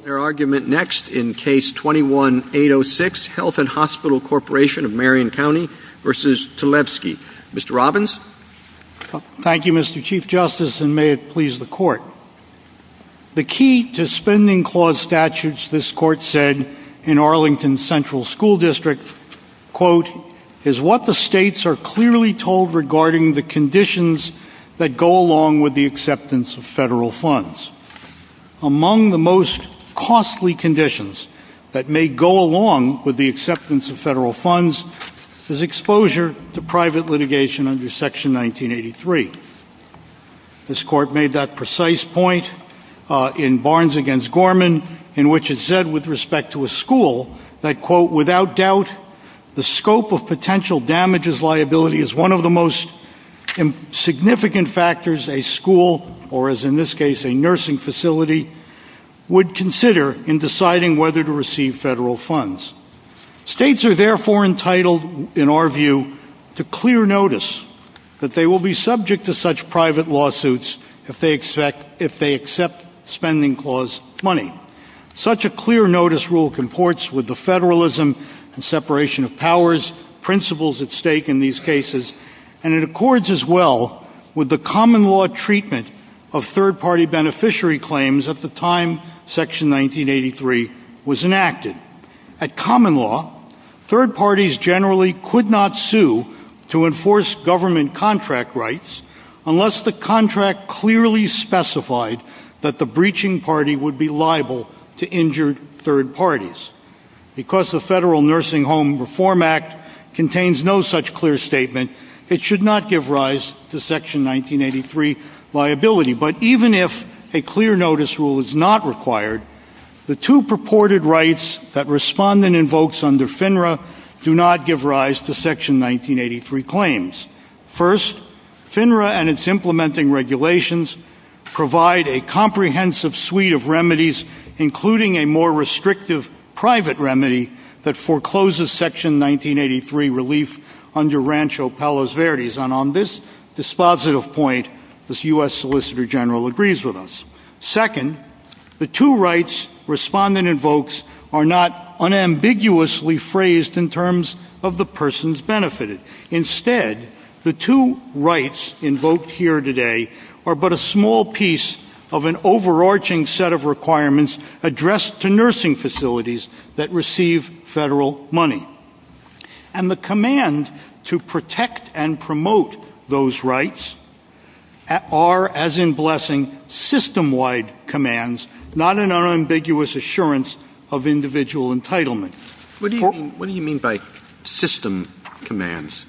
Thank you, Mr. Chief Justice, and may it please the Court. The key to spending clause statutes, this Court said in Arlington Central School District, is what the states are clearly told regarding the conditions that go along with the acceptance of federal funds. Among the most costly conditions that may go along with the acceptance of federal funds is exposure to private litigation under Section 1983. This Court made that precise point in Barnes v. Gorman, in which it said with respect to a school that, without doubt, the scope of potential damages liability is one of the most significant factors a school, or as in this case, a nursing facility, would consider in deciding whether to receive federal funds. States are therefore entitled, in our view, to clear notice that they will be subject to such private lawsuits if they accept spending clause money. Such a clear notice rule comports with the federalism and separation of powers, principles at stake in these cases, and it accords as well with the common law treatment of third-party beneficiary claims at the time Section 1983 was enacted. At common law, third parties generally could not sue to enforce government contract rights unless the contract clearly specified that the breaching party would be liable to injured third parties. Because the Federal Nursing Home Reform Act contains no such clear statement, it should not give rise to Section 1983 liability. But even if a clear notice rule is not required, the two purported rights that Respondent invokes under FINRA do not give rise to Section 1983 claims. First, FINRA and its implementing regulations provide a comprehensive suite of remedies, including a more restrictive private remedy that forecloses Section 1983 relief under Rancho Palos Verdes. And on this dispositive point, this U.S. Solicitor General agrees with us. Second, the two rights Respondent invokes are not unambiguously phrased in terms of the persons benefited. Instead, the two rights invoked here today are but a small piece of an overarching set of requirements addressed to nursing facilities that receive Federal money. And the command to protect and promote those rights are, as in Blessing, system-wide commands, not an unambiguous assurance of individual entitlement. What do you mean by system commands?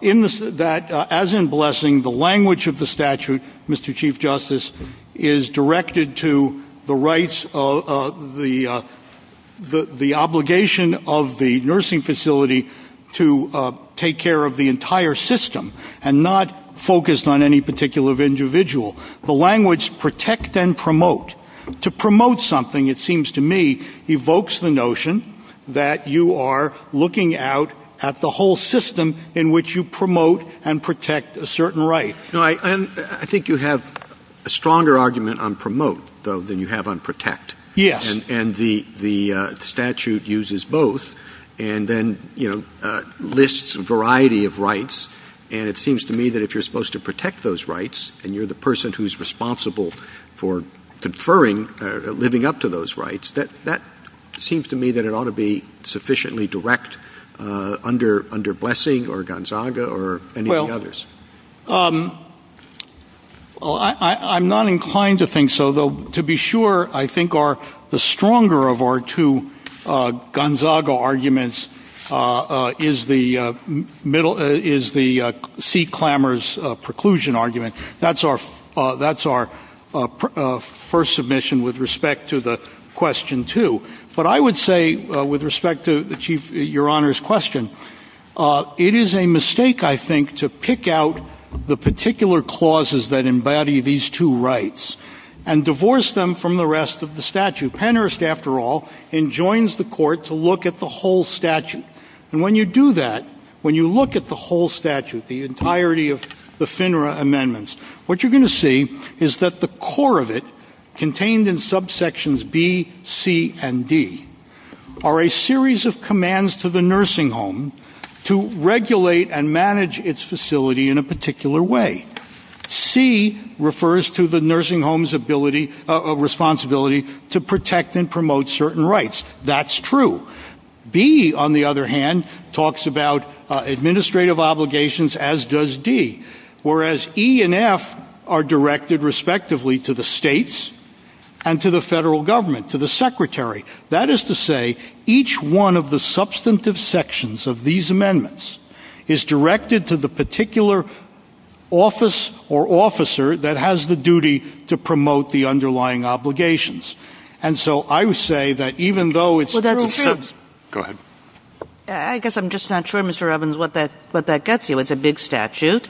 In that, as in Blessing, the language of the statute, Mr. Chief Justice, is directed to the rights of the obligation of the nursing facility to take care of the entire system and not focused on any particular individual. The language, protect and promote, to promote something, it seems to me, evokes the notion that you are looking out at the whole system in which you promote and protect a certain right. No, I think you have a stronger argument on promote, though, than you have on protect. Yes. And the statute uses both and then, you know, lists a variety of rights, and it seems to me that if you're supposed to protect those rights and you're the person who's responsible for conferring, living up to those rights, that seems to me that it ought to be sufficiently direct under Blessing or Gonzaga or any of the others. I'm not inclined to think so, though, to be sure, I think the stronger of our two Gonzaga arguments is the C. Clamor's preclusion argument. That's our first submission with respect to the question two. But I would say, with respect to your Honor's question, it is a mistake, I think, to pick out the particular clauses that embody these two rights and divorce them from the rest of the statute. Pennhurst, after all, enjoins the court to look at the whole statute, and when you do that, when you look at the whole statute, the entirety of the FINRA amendments, what you're going to see is that the core of it, contained in subsections B, C, and D, are a series of commands to the nursing home to regulate and manage its facility in a particular way. C refers to the nursing home's ability, responsibility to protect and promote certain rights. That's true. B, on the other hand, talks about administrative obligations, as does D, whereas E and F are directed respectively to the states and to the federal government, to the secretary. That is to say, each one of the substantive sections of these amendments is directed to the particular office or officer that has the duty to promote the underlying obligations. And so, I would say that even though it's... Well, that's true. Go ahead. I guess I'm just not sure, Mr. Robbins, what that gets you. It's a big statute.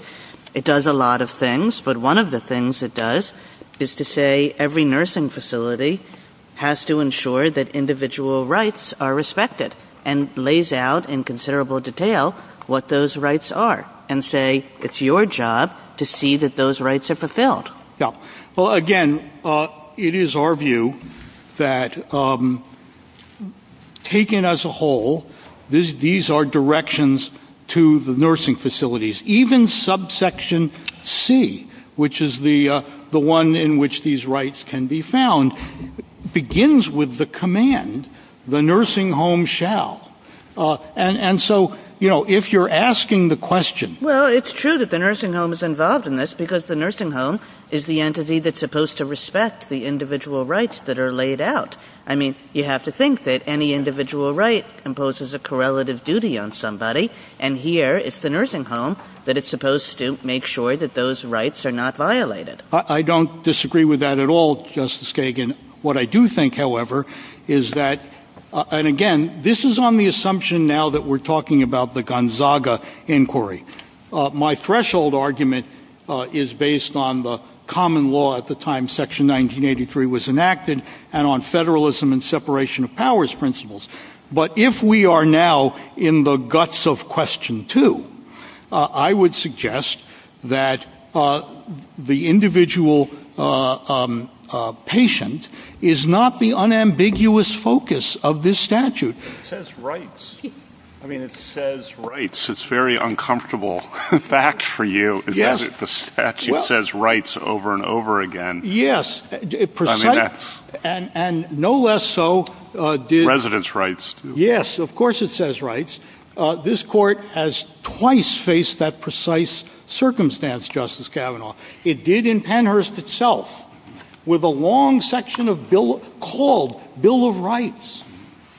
It does a lot of things, but one of the things it does is to say every nursing facility has to ensure that individual rights are respected, and lays out in considerable detail what those rights are, and say, it's your job to see that those rights are fulfilled. Well, again, it is our view that, taken as a whole, these are directions to the nursing facilities. Even subsection C, which is the one in which these rights can be found, begins with the command, the nursing home shall. And so, you know, if you're asking the question... Well, it's true that the nursing home is involved in this, because the nursing home is the entity that's supposed to respect the individual rights that are laid out. I mean, you have to think that any individual right imposes a correlative duty on somebody, and here, it's the nursing home that is supposed to make sure that those rights are not violated. I don't disagree with that at all, Justice Kagan. What I do think, however, is that, and again, this is on the assumption now that we're talking about the Gonzaga Inquiry, my threshold argument is based on the common law at the time Section 1983 was enacted, and on federalism and separation of powers principles. But if we are now in the guts of Question 2, I would suggest that the individual patient is not the unambiguous focus of this statute. It says rights. I mean, it says rights. It's very uncomfortable. In fact, for you, the statute says rights over and over again. Yes. It precisely, and no less so did... Residence rights. Yes. Of course it says rights. This court has twice faced that precise circumstance, Justice Kavanaugh. It did in Pennhurst itself with a long section of bill called Bill of Rights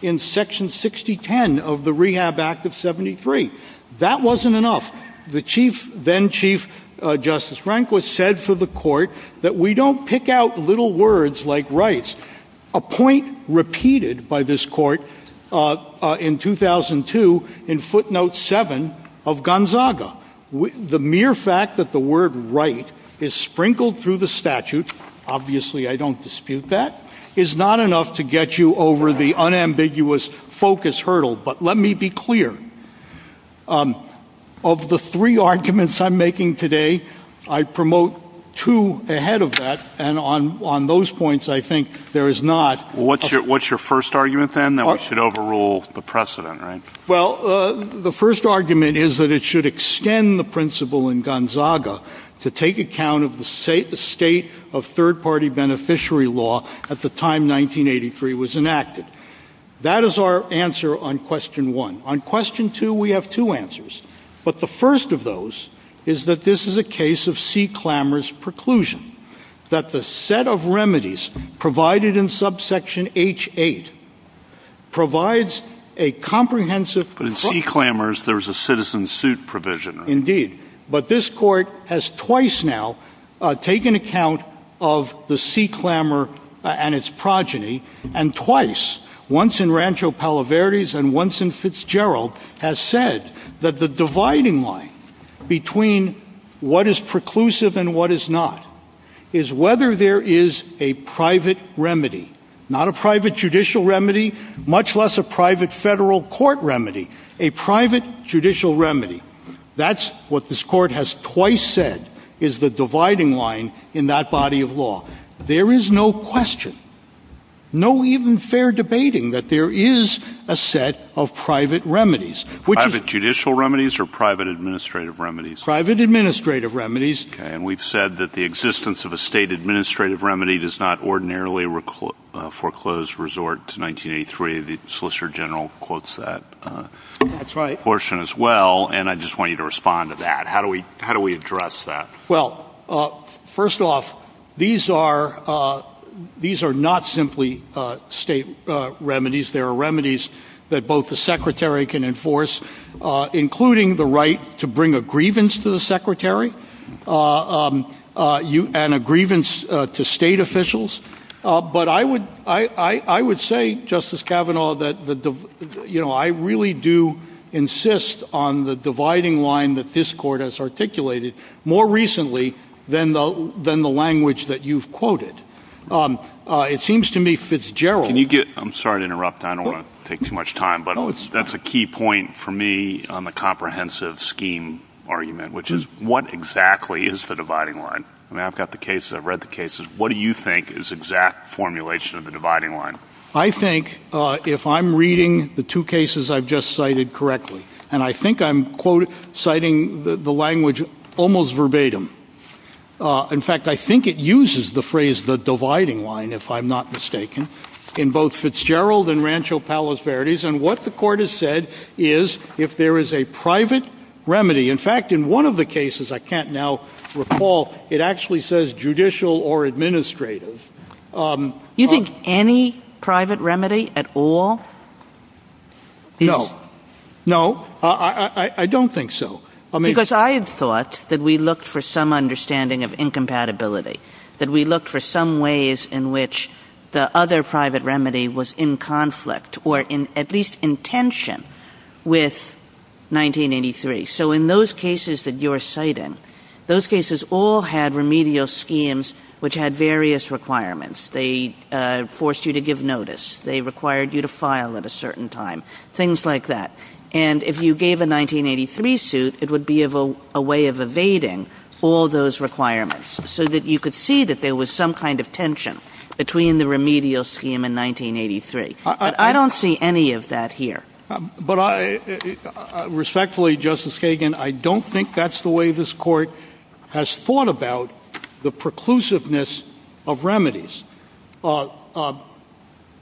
in Section 6010 of the Rehab Act of 73. That wasn't enough. The then Chief Justice Rehnquist said for the court that we don't pick out little words like rights. A point repeated by this court in 2002 in footnote 7 of Gonzaga. The mere fact that the word right is sprinkled through the statute, obviously I don't dispute that, is not enough to get you over the unambiguous focus hurdle. But let me be clear. Of the three arguments I'm making today, I promote two ahead of that. And on those points, I think there is not... What's your first argument then, that we should overrule the precedent, right? Well, the first argument is that it should extend the principle in Gonzaga to take account of the state of third-party beneficiary law at the time 1983 was enacted. That is our answer on question one. On question two, we have two answers. But the first of those is that this is a case of sea-clamorous preclusion, that the set of remedies provided in subsection H-8 provides a comprehensive... In sea clamors, there's a citizen suit provision. Indeed. But this court has twice now taken account of the sea clamor and its progeny, and twice, once in Rancho Palaverdes and once in Fitzgerald, has said that the dividing line between what is preclusive and what is not is whether there is a private remedy. Not a private judicial remedy, much less a private federal court remedy. A private judicial remedy. That's what this court has twice said is the dividing line in that body of law. There is no question, no even fair debating, that there is a set of private remedies. Private judicial remedies or private administrative remedies? Private administrative remedies. And we've said that the existence of a state administrative remedy does not ordinarily foreclose resort to 1983. The Solicitor General quotes that portion as well, and I just want you to respond to that. How do we address that? Well, first off, these are not simply state remedies. There are remedies that both the Secretary can enforce, including the right to bring a grievance to the Secretary and a grievance to state officials. But I would say, Justice Kavanaugh, that I really do insist on the dividing line that this court has articulated more recently than the language that you've quoted. It seems to me Fitzgerald... I'm sorry to interrupt. I don't want to take too much time, but that's a key point for me on the comprehensive scheme argument, which is what exactly is the dividing line? I mean, I've got the case, I've read the cases. What do you think is exact formulation of the dividing line? I think if I'm reading the two cases I've just cited correctly, and I think I'm citing the language almost verbatim. In fact, I think it uses the phrase, the dividing line, if I'm not mistaken, in both Fitzgerald and Rancho Palos Verdes. And what the court has said is, if there is a private remedy, in fact, in one of the cases I can't now recall, it actually says judicial or administrative. You think any private remedy at all is... No. No, I don't think so. Because I thought that we looked for some understanding of incompatibility, that we looked for some ways in which the other private remedy was in conflict or at least in tension with 1983. So in those cases that you're citing, those cases all had remedial schemes, which had various requirements. They forced you to give notice. They required you to file at a certain time, things like that. And if you gave a 1983 suit, it would be a way of evading all those requirements so that you could see that there was some kind of tension between the remedial scheme and 1983. I don't see any of that here. But I, respectfully, Justice Kagan, I don't think that's the way this court has thought about the preclusiveness of remedies. I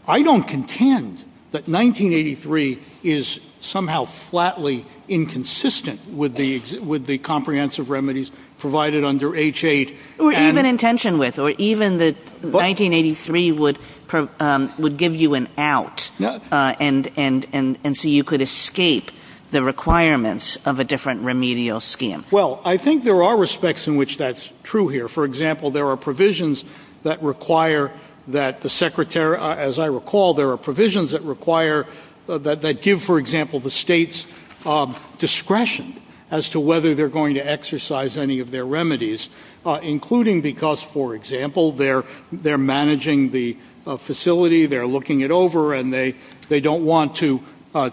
don't contend that 1983 is somehow flatly inconsistent with the comprehensive remedies provided under H-8. Or even in tension with, or even that 1983 would give you an out, and so you could escape the requirements of a different remedial scheme. Well, I think there are respects in which that's true here. For example, there are provisions that require that the Secretary, as I recall, there are provisions that require, that give, for example, the states discretion as to whether they're going to exercise any of their remedies, including because, for example, they're managing the facility, they're looking it over, and they don't want to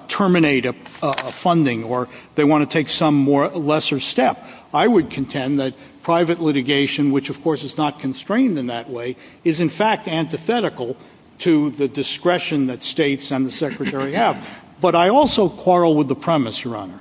terminate funding, or they want to take some lesser step. I would contend that private litigation, which, of course, is not constrained in that way, is in fact antithetical to the discretion that states and the Secretary have. But I also quarrel with the premise, Your Honor,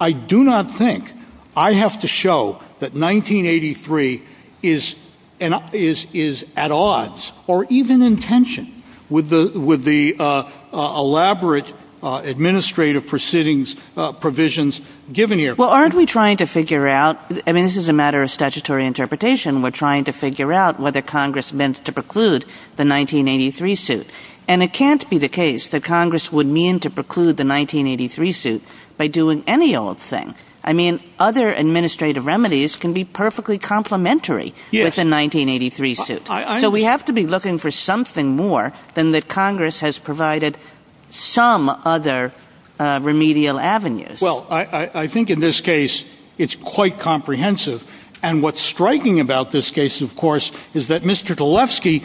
I do not think I have to show that 1983 is at odds, or even in tension, with the elaborate administrative proceedings provisions given here. Well, aren't we trying to figure out, I mean, this is a matter of statutory interpretation, we're trying to figure out whether Congress meant to preclude the 1983 suit. And it can't be the case that Congress would mean to preclude the 1983 suit by doing any old thing. I mean, other administrative remedies can be perfectly complementary with the 1983 suit. So we have to be looking for something more than that Congress has provided some other remedial avenues. Well, I think in this case, it's quite comprehensive. And what's striking about this case, of course, is that Mr. Galefsky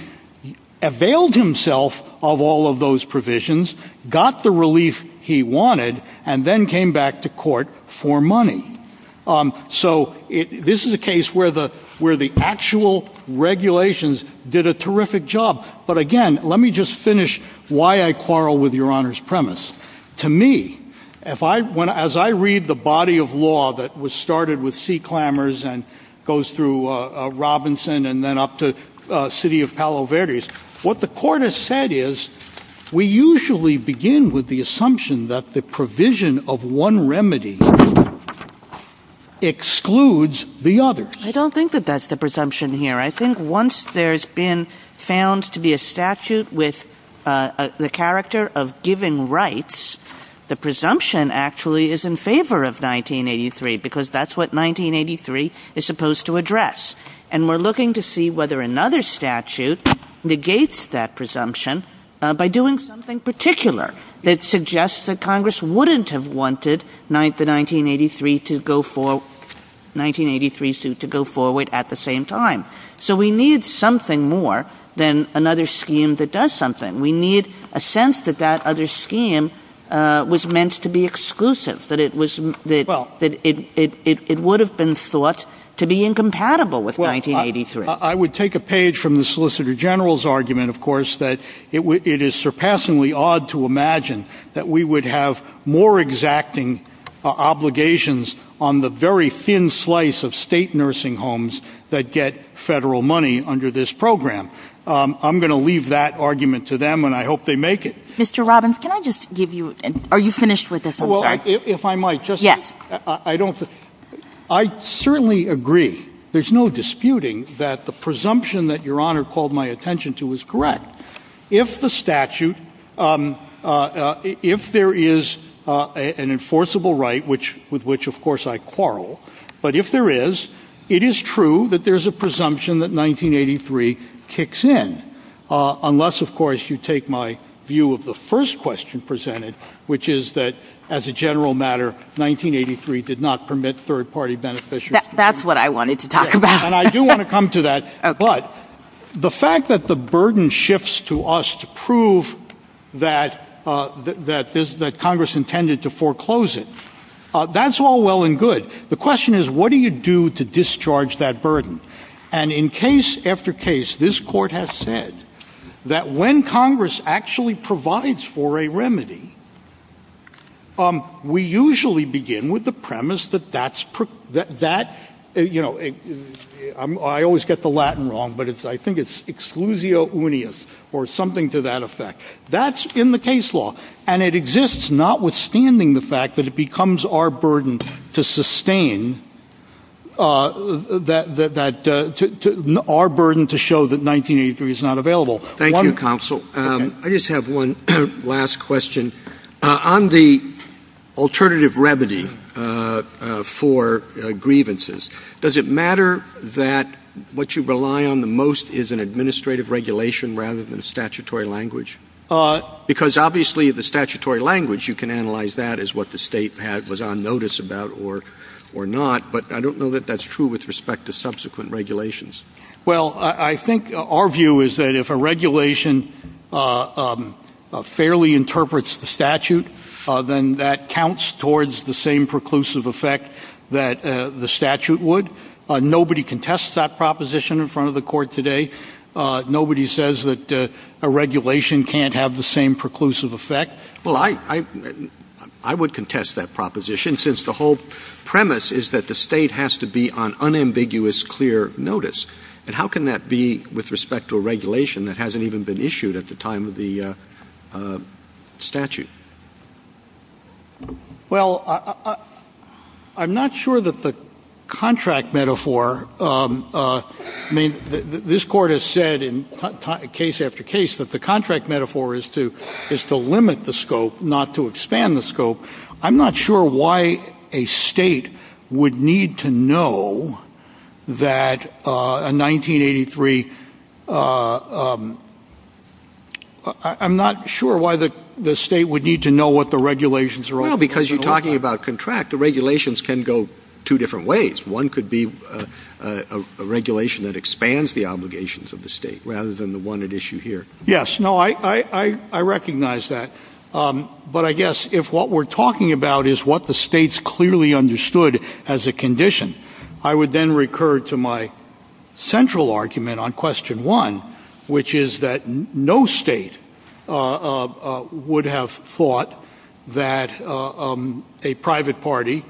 availed himself of all of those provisions, got the relief he wanted, and then came back to court for money. So this is a case where the actual regulations did a terrific job. But again, let me just finish why I quarrel with Your Honor's premise. To me, as I read the body of law that was started with sea clamors and goes through Robinson and then up to City of Palo Verde, what the court has said is, we usually begin with the assumption that the provision of one remedy excludes the others. I don't think that that's the presumption here. I think once there's been found to be a statute with the character of giving rights, the presumption actually is in favor of 1983, because that's what 1983 is supposed to address. And we're looking to see whether another statute negates that presumption by doing something particular that suggests that Congress wouldn't have wanted the 1983 suit to go forward at the same time. So we need something more than another scheme that does something. We need a sense that that other scheme was meant to be exclusive, that it would have been thought to be incompatible with 1983. I would take a page from the Solicitor General's argument, of course, that it is surpassingly odd to imagine that we would have more exacting obligations on the very thin slice of state nursing homes that get federal money under this program. I'm going to leave that argument to them, and I hope they make it. Mr. Robbins, can I just give you – are you finished with this argument? Well, if I might, just – Yes. I don't – I certainly agree, there's no disputing that the presumption that Your Honor called my attention to is correct. If the statute – if there is an enforceable right, with which, of course, I quarrel, but if there is, it is true that there's a presumption that 1983 kicks in, unless, of course, you take my view of the first question presented, which is that, as a general matter, 1983 did not permit third-party beneficiaries – That's what I wanted to talk about. And I do want to come to that, but the fact that the burden shifts to us to prove that Congress intended to foreclose it, that's all well and good. The question is, what do you do to discharge that burden? And in case after case, this Court has said that when Congress actually provides for a remedy, we usually begin with the premise that that's – you know, I always get the Latin wrong, but I think it's exclusio unius, or something to that effect. That's in the case law, and it exists notwithstanding the fact that it becomes our burden to suspend or sustain that – our burden to show that 1983 is not available. One – Thank you, Counsel. I just have one last question. On the alternative remedy for grievances, does it matter that what you rely on the most is an administrative regulation rather than a statutory language? Because obviously, the statutory language, you can analyze that as what the state was on notice about or not, but I don't know that that's true with respect to subsequent regulations. Well, I think our view is that if a regulation fairly interprets the statute, then that counts towards the same preclusive effect that the statute would. Nobody contests that proposition in front of the Court today. Nobody says that a regulation can't have the same preclusive effect. Well, I would contest that proposition, since the whole premise is that the state has to be on unambiguous, clear notice. And how can that be with respect to a regulation that hasn't even been issued at the time of the statute? Well, I'm not sure that the contract metaphor – I mean, this Court has said in case after case that the contract metaphor is to limit the scope, not to expand the scope. I'm not sure why a state would need to know that a 1983 – I'm not sure why the state would need to know what the regulations are all about. Well, because you're talking about contract, the regulations can go two different ways. One could be a regulation that expands the obligations of the state, rather than the state. That's not an issue here. Yes, no, I recognize that. But I guess if what we're talking about is what the states clearly understood as a condition, I would then recur to my central argument on question one, which is that no state would have thought that a private party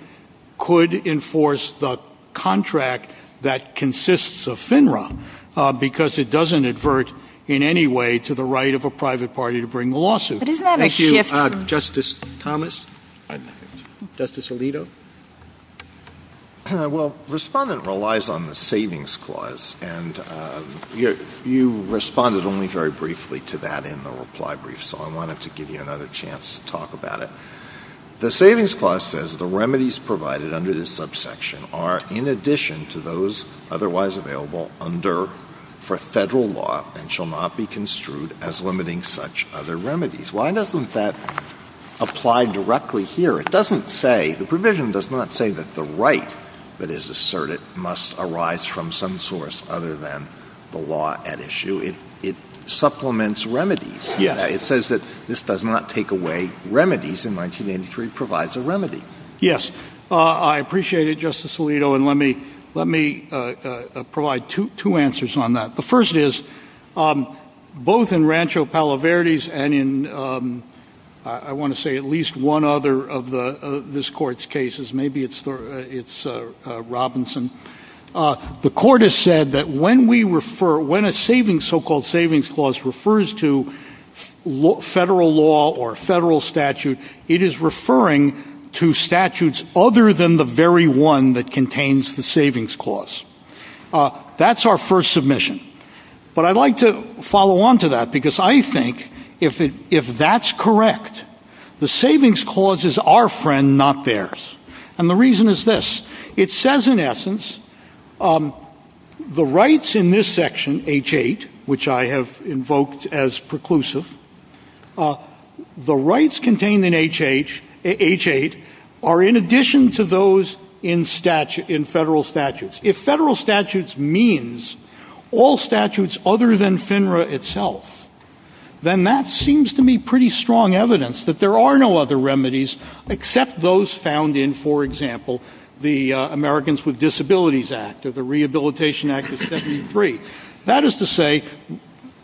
could enforce the contract that consists of FINRA, because it doesn't advert in any way to the right of a private party to bring the lawsuit. But isn't that a shift from – Thank you. Justice Thomas? Justice Alito? Well, Respondent relies on the Savings Clause, and you responded only very briefly to that in the reply brief, so I wanted to give you another chance to talk about it. The Savings Clause says the remedies provided under this subsection are in addition to those otherwise available under, for federal law, and shall not be construed as limiting such other remedies. Why doesn't that apply directly here? It doesn't say – the provision does not say that the right that is asserted must arise from some source other than the law at issue. It supplements remedies. It says that this does not take away remedies, and 1983 provides a remedy. Yes. Thank you, Justice Thomas. I appreciate it, Justice Alito, and let me provide two answers on that. The first is, both in Rancho Palo Verde's and in, I want to say, at least one other of this Court's cases – maybe it's Robinson – the Court has said that when we refer – when a so-called Savings Clause refers to federal law or federal statute, it is referring to statutes other than the very one that contains the Savings Clause. That's our first submission. But I'd like to follow on to that, because I think, if that's correct, the Savings Clause is our friend, not theirs. And the reason is this. It says, in essence, the rights in this section, H. 8, which I have invoked as preclusive, the rights contained in H. 8 are in addition to those in federal statutes. If federal statutes means all statutes other than FINRA itself, then that seems to me pretty strong evidence that there are no other remedies except those found in, for example, the Americans with Disabilities Act or the Rehabilitation Act of 1973. That is to say,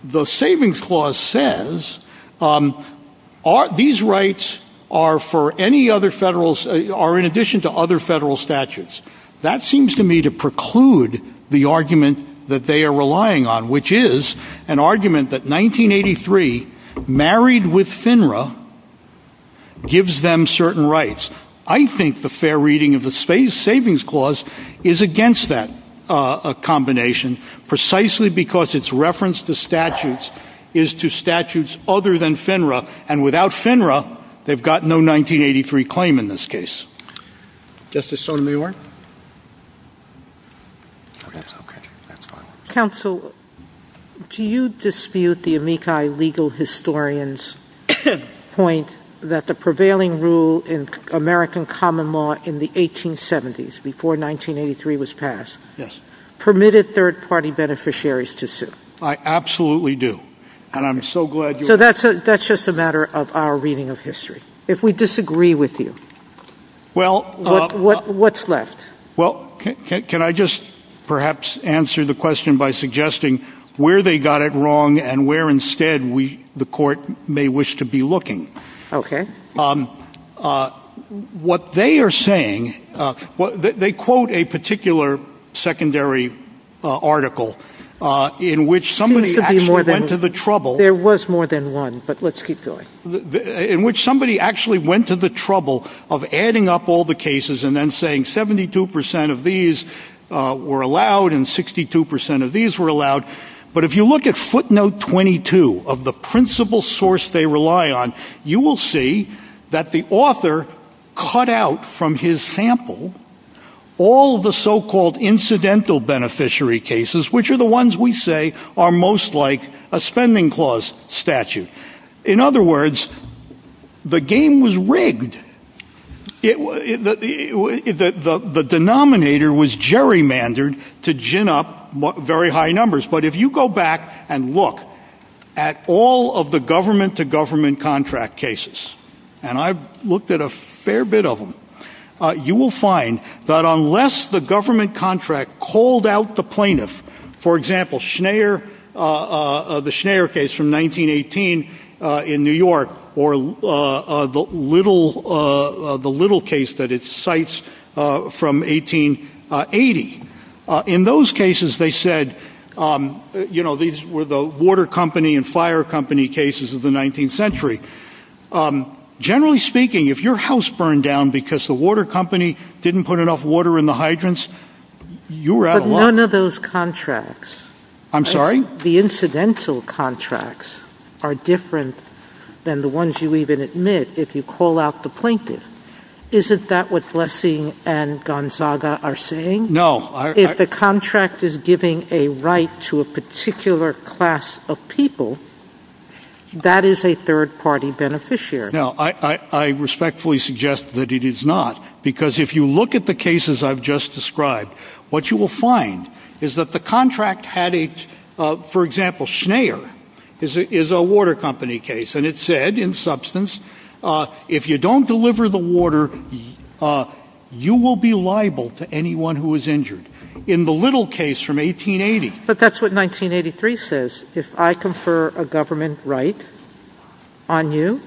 the Savings Clause says these rights are for any other federal – are in addition to other federal statutes. That seems to me to preclude the argument that they are relying on, which is an argument that 1983, married with FINRA, gives them certain rights. I think the fair reading of the Savings Clause is against that combination, precisely because its reference to statutes is to statutes other than FINRA. And without FINRA, they've got no 1983 claim in this case. Justice Sotomayor? That's okay. That's fine. Counsel, do you dispute the Amici legal historian's point that the prevailing rule in American common law in the 1870s, before 1983 was passed, permitted third-party beneficiaries to sue? I absolutely do. And I'm so glad you – So that's just a matter of our reading of history. If we disagree with you, what's left? Well, can I just perhaps answer the question by suggesting where they got it wrong and where instead we – the court may wish to be looking? Okay. What they are saying – they quote a particular secondary article in which somebody actually went to the trouble – There was more than one, but let's keep going. In which somebody actually went to the trouble of adding up all the cases and then saying 72 percent of these were allowed and 62 percent of these were allowed. But if you look at footnote 22 of the principal source they rely on, you will see that the author cut out from his sample all the so-called incidental beneficiary cases, which are the ones we say are most like a spending clause statute. In other words, the game was rigged. The denominator was gerrymandered to gin up very high numbers. But if you go back and look at all of the government-to-government contract cases, and I've looked at a fair bit of them, you will find that unless the government contract called out the plaintiff, for example, the Schneier case from 1918 in New York, or the Little case that it cites from 1880. In those cases they said, you know, these were the water company and fire company cases of the 19th century. Generally speaking, if your house burned down because the water company didn't put enough water in the hydrants, you were at a loss. But none of those contracts. I'm sorry? The incidental contracts are different than the ones you even admit if you call out the plaintiff. Isn't that what Lessing and Gonzaga are saying? No. If the contract is giving a right to a particular class of people, that is a third-party beneficiary. I respectfully suggest that it is not, because if you look at the cases I've just described, what you will find is that the contract had a, for example, Schneier is a water company case and it said, in substance, if you don't deliver the water, you will be liable to anyone who is injured. In the Little case from 1880. But that's what 1983 says. If I confer a government right on you,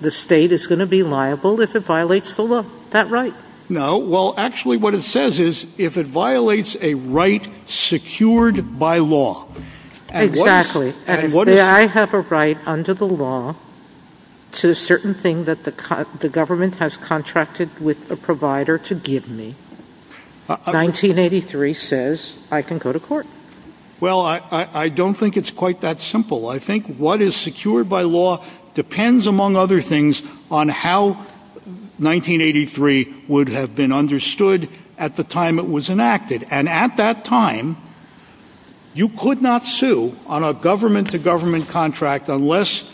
the state is going to be liable if it violates the law. Is that right? No. Well, actually what it says is, if it violates a right secured by law. Exactly. If I have a right under the law to a certain thing that the government has contracted with the provider to give me, 1983 says I can go to court. Well, I don't think it's quite that simple. I think what is secured by law depends, among other things, on how 1983 would have been understood at the time it was enacted. And at that time, you could not sue on a government-to-government contract unless,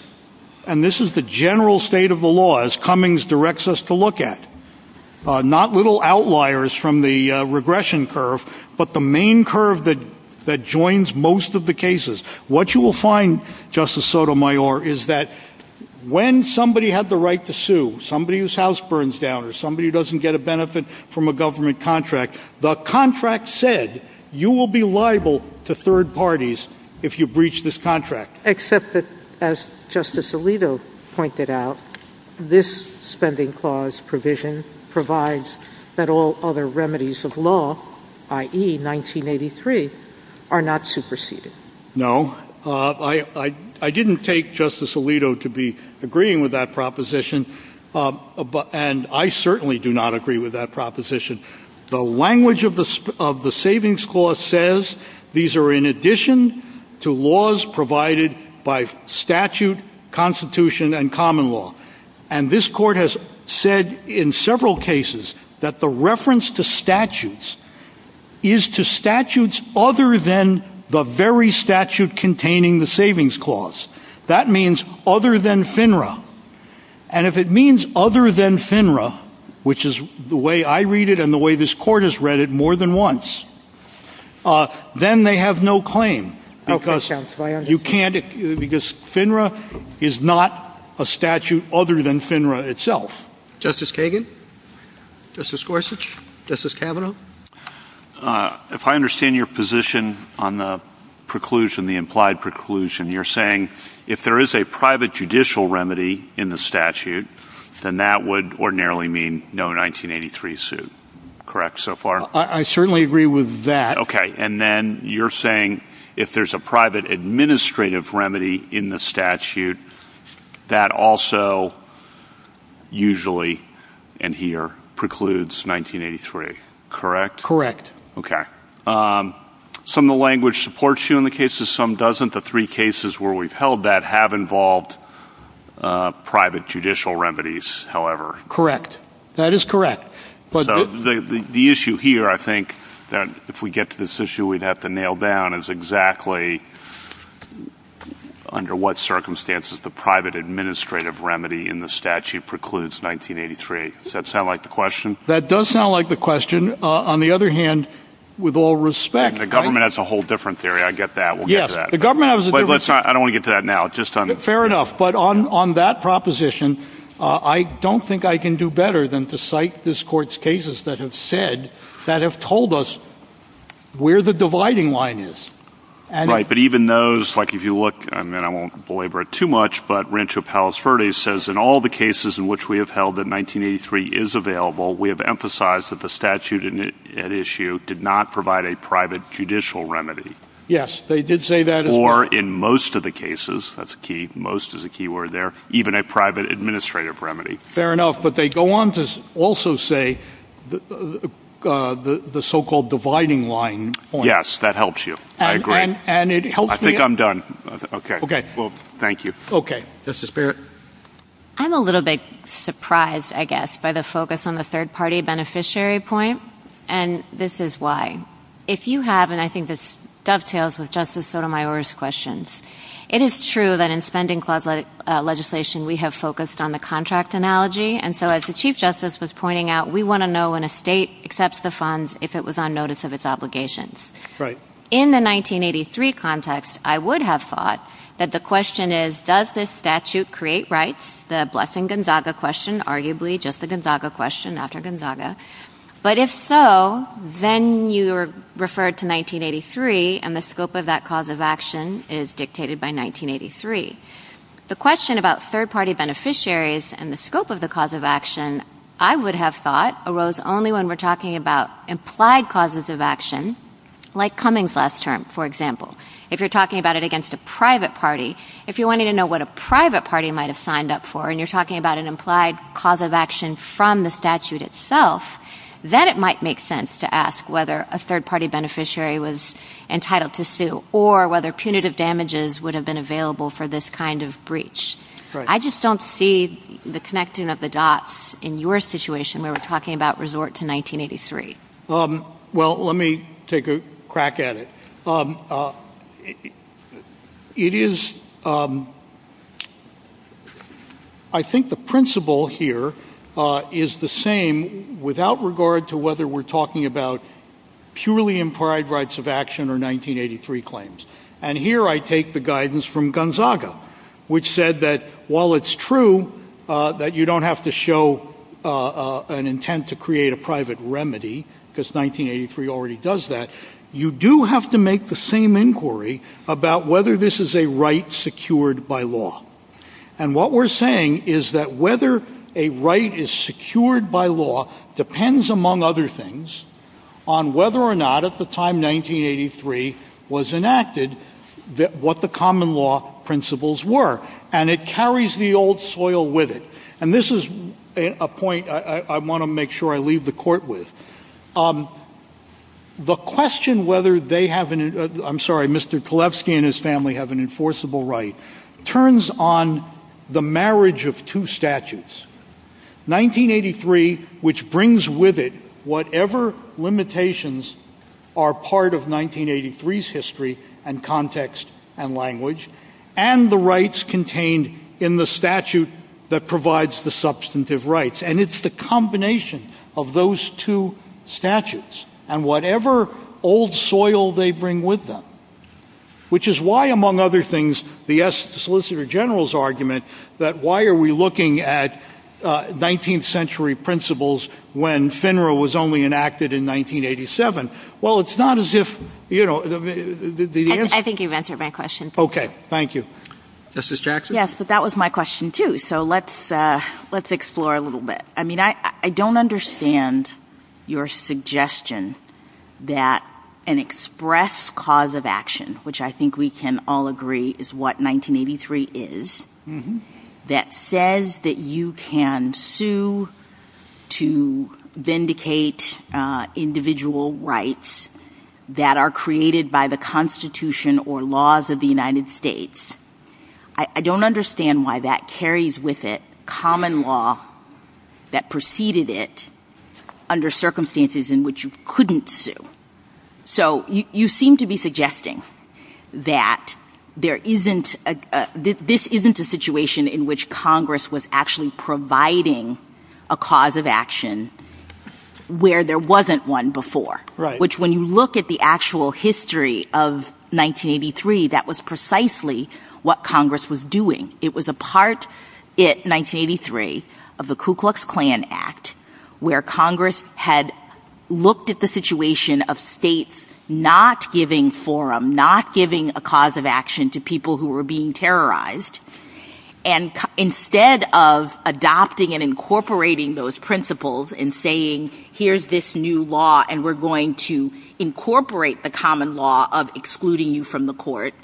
and this is the general state of the law, as Cummings directs us to look at, not little outliers from the regression curve, but the main curve that joins most of the cases. What you will find, Justice Sotomayor, is that when somebody had the right to sue, somebody whose house burns down, or somebody who doesn't get a benefit from a government contract, the contract said you will be liable to third parties if you breach this contract. Except that, as Justice Alito pointed out, this spending clause provision provides that all other remedies of law, i.e., 1983, are not superseded. No. I didn't take Justice Alito to be agreeing with that proposition, and I certainly do not agree with that proposition. The language of the savings clause says these are in addition to laws provided by statute, constitution, and common law. And this Court has said in several cases that the reference to statutes is to statutes other than the very statute containing the savings clause. That means other than FINRA. And if it means other than FINRA, which is the way I read it and the way this Court has read it more than once, then they have no claim. Because FINRA is not a statute other than FINRA itself. Justice Kagan? Justice Gorsuch? Justice Kavanaugh? If I understand your position on the preclusion, the implied preclusion, you're saying if there is a private judicial remedy in the statute, then that would ordinarily mean no 1983 suit. Correct so far? I certainly agree with that. Okay. And then you're saying if there's a private administrative remedy in the statute, that also usually, and here, precludes 1983. Correct? Correct. Okay. Some of the language supports you in the cases, some doesn't. The three cases where we've held that have involved private judicial remedies, however. Correct. That is correct. So the issue here, I think, if we get to this issue, we'd have to nail down is exactly under what circumstances the private administrative remedy in the statute precludes 1983. Does that sound like the question? That does sound like the question. On the other hand, with all respect, The government has a whole different theory. I get that. We'll get to that. Yes. The government has a different theory. I don't want to get to that now. Fair enough. But on that proposition, I don't think I can do better than to cite this court's cases that have said, that have told us where the dividing line is. Right. But even those, like if you look, and then I won't belabor it too much, but Rancho Palos Verdes says in all the cases in which we have held that 1983 is available, we have emphasized that the statute at issue did not provide a private judicial remedy. Yes. They did say that as well. They are in most of the cases, that's key, most is a key word there, even a private administrative remedy. Fair enough. But they go on to also say the so-called dividing line point. Yes. That helps you. I agree. And it helps me. I think I'm done. Okay. Okay. Well, thank you. Okay. Justice Barrett. I'm a little bit surprised, I guess, by the focus on the third party beneficiary point. And this is why. If you have, and I think this dovetails with Justice Sotomayor's questions, it is true that in spending clause legislation, we have focused on the contract analogy. And so as the Chief Justice was pointing out, we want to know when a state accepts the funds, if it was on notice of its obligations. Right. In the 1983 context, I would have thought that the question is, does this statute create rights? The blessing Gonzaga question, arguably, just the Gonzaga question after Gonzaga. But if so, then you are referred to 1983, and the scope of that cause of action is dictated by 1983. The question about third party beneficiaries and the scope of the cause of action, I would have thought, arose only when we're talking about implied causes of action, like Cummings last term, for example. If you're talking about it against a private party, if you wanted to know what a private party might have signed up for, and you're talking about an implied cause of action from the statute itself, then it might make sense to ask whether a third party beneficiary was entitled to sue, or whether punitive damages would have been available for this kind of breach. I just don't see the connecting of the dots in your situation when we're talking about resort to 1983. Well, let me take a crack at it. I think the principle here is the same without regard to whether we're talking about purely implied rights of action or 1983 claims. And here I take the guidance from Gonzaga, which said that while it's true that you don't have to show an intent to create a private remedy, because 1983 already does that, you do have to make the same inquiry about whether this is a right secured by law. And what we're saying is that whether a right is secured by law depends, among other things, on whether or not, at the time 1983 was enacted, what the common law principles were. And it carries the old soil with it. And this is a point I want to make sure I leave the court with. The question whether they have an—I'm sorry, Mr. Kolefsky and his family have an enforceable right turns on the marriage of two statutes, 1983, which brings with it whatever limitations are part of 1983's history and context and language, and the rights contained in the statute that provides the substantive rights. And it's the combination of those two statutes and whatever old soil they bring with them, which is why, among other things, the solicitor general's argument that why are we looking at 19th century principles when FINRA was only enacted in 1987? Well, it's not as if, you know, the answer— I think you've answered my question. Okay. Thank you. Justice Jackson? Yes. But that was my question, too, so let's explore a little bit. I mean, I don't understand your suggestion that an express cause of action, which I think we can all agree is what 1983 is, that says that you can sue to vindicate individual rights that are created by the Constitution or laws of the United States. I don't understand why that carries with it common law that preceded it under circumstances in which you couldn't sue. So you seem to be suggesting that there isn't—this isn't a situation in which Congress was actually providing a cause of action where there wasn't one before, which when you look at the actual history of 1983, that was precisely what Congress was doing. It was a part, in 1983, of the Ku Klux Klan Act where Congress had looked at the situation of states not giving forum, not giving a cause of action to people who were being terrorized, and instead of adopting and incorporating those principles and saying here's this new law and we're going to incorporate the common law of excluding you from the court,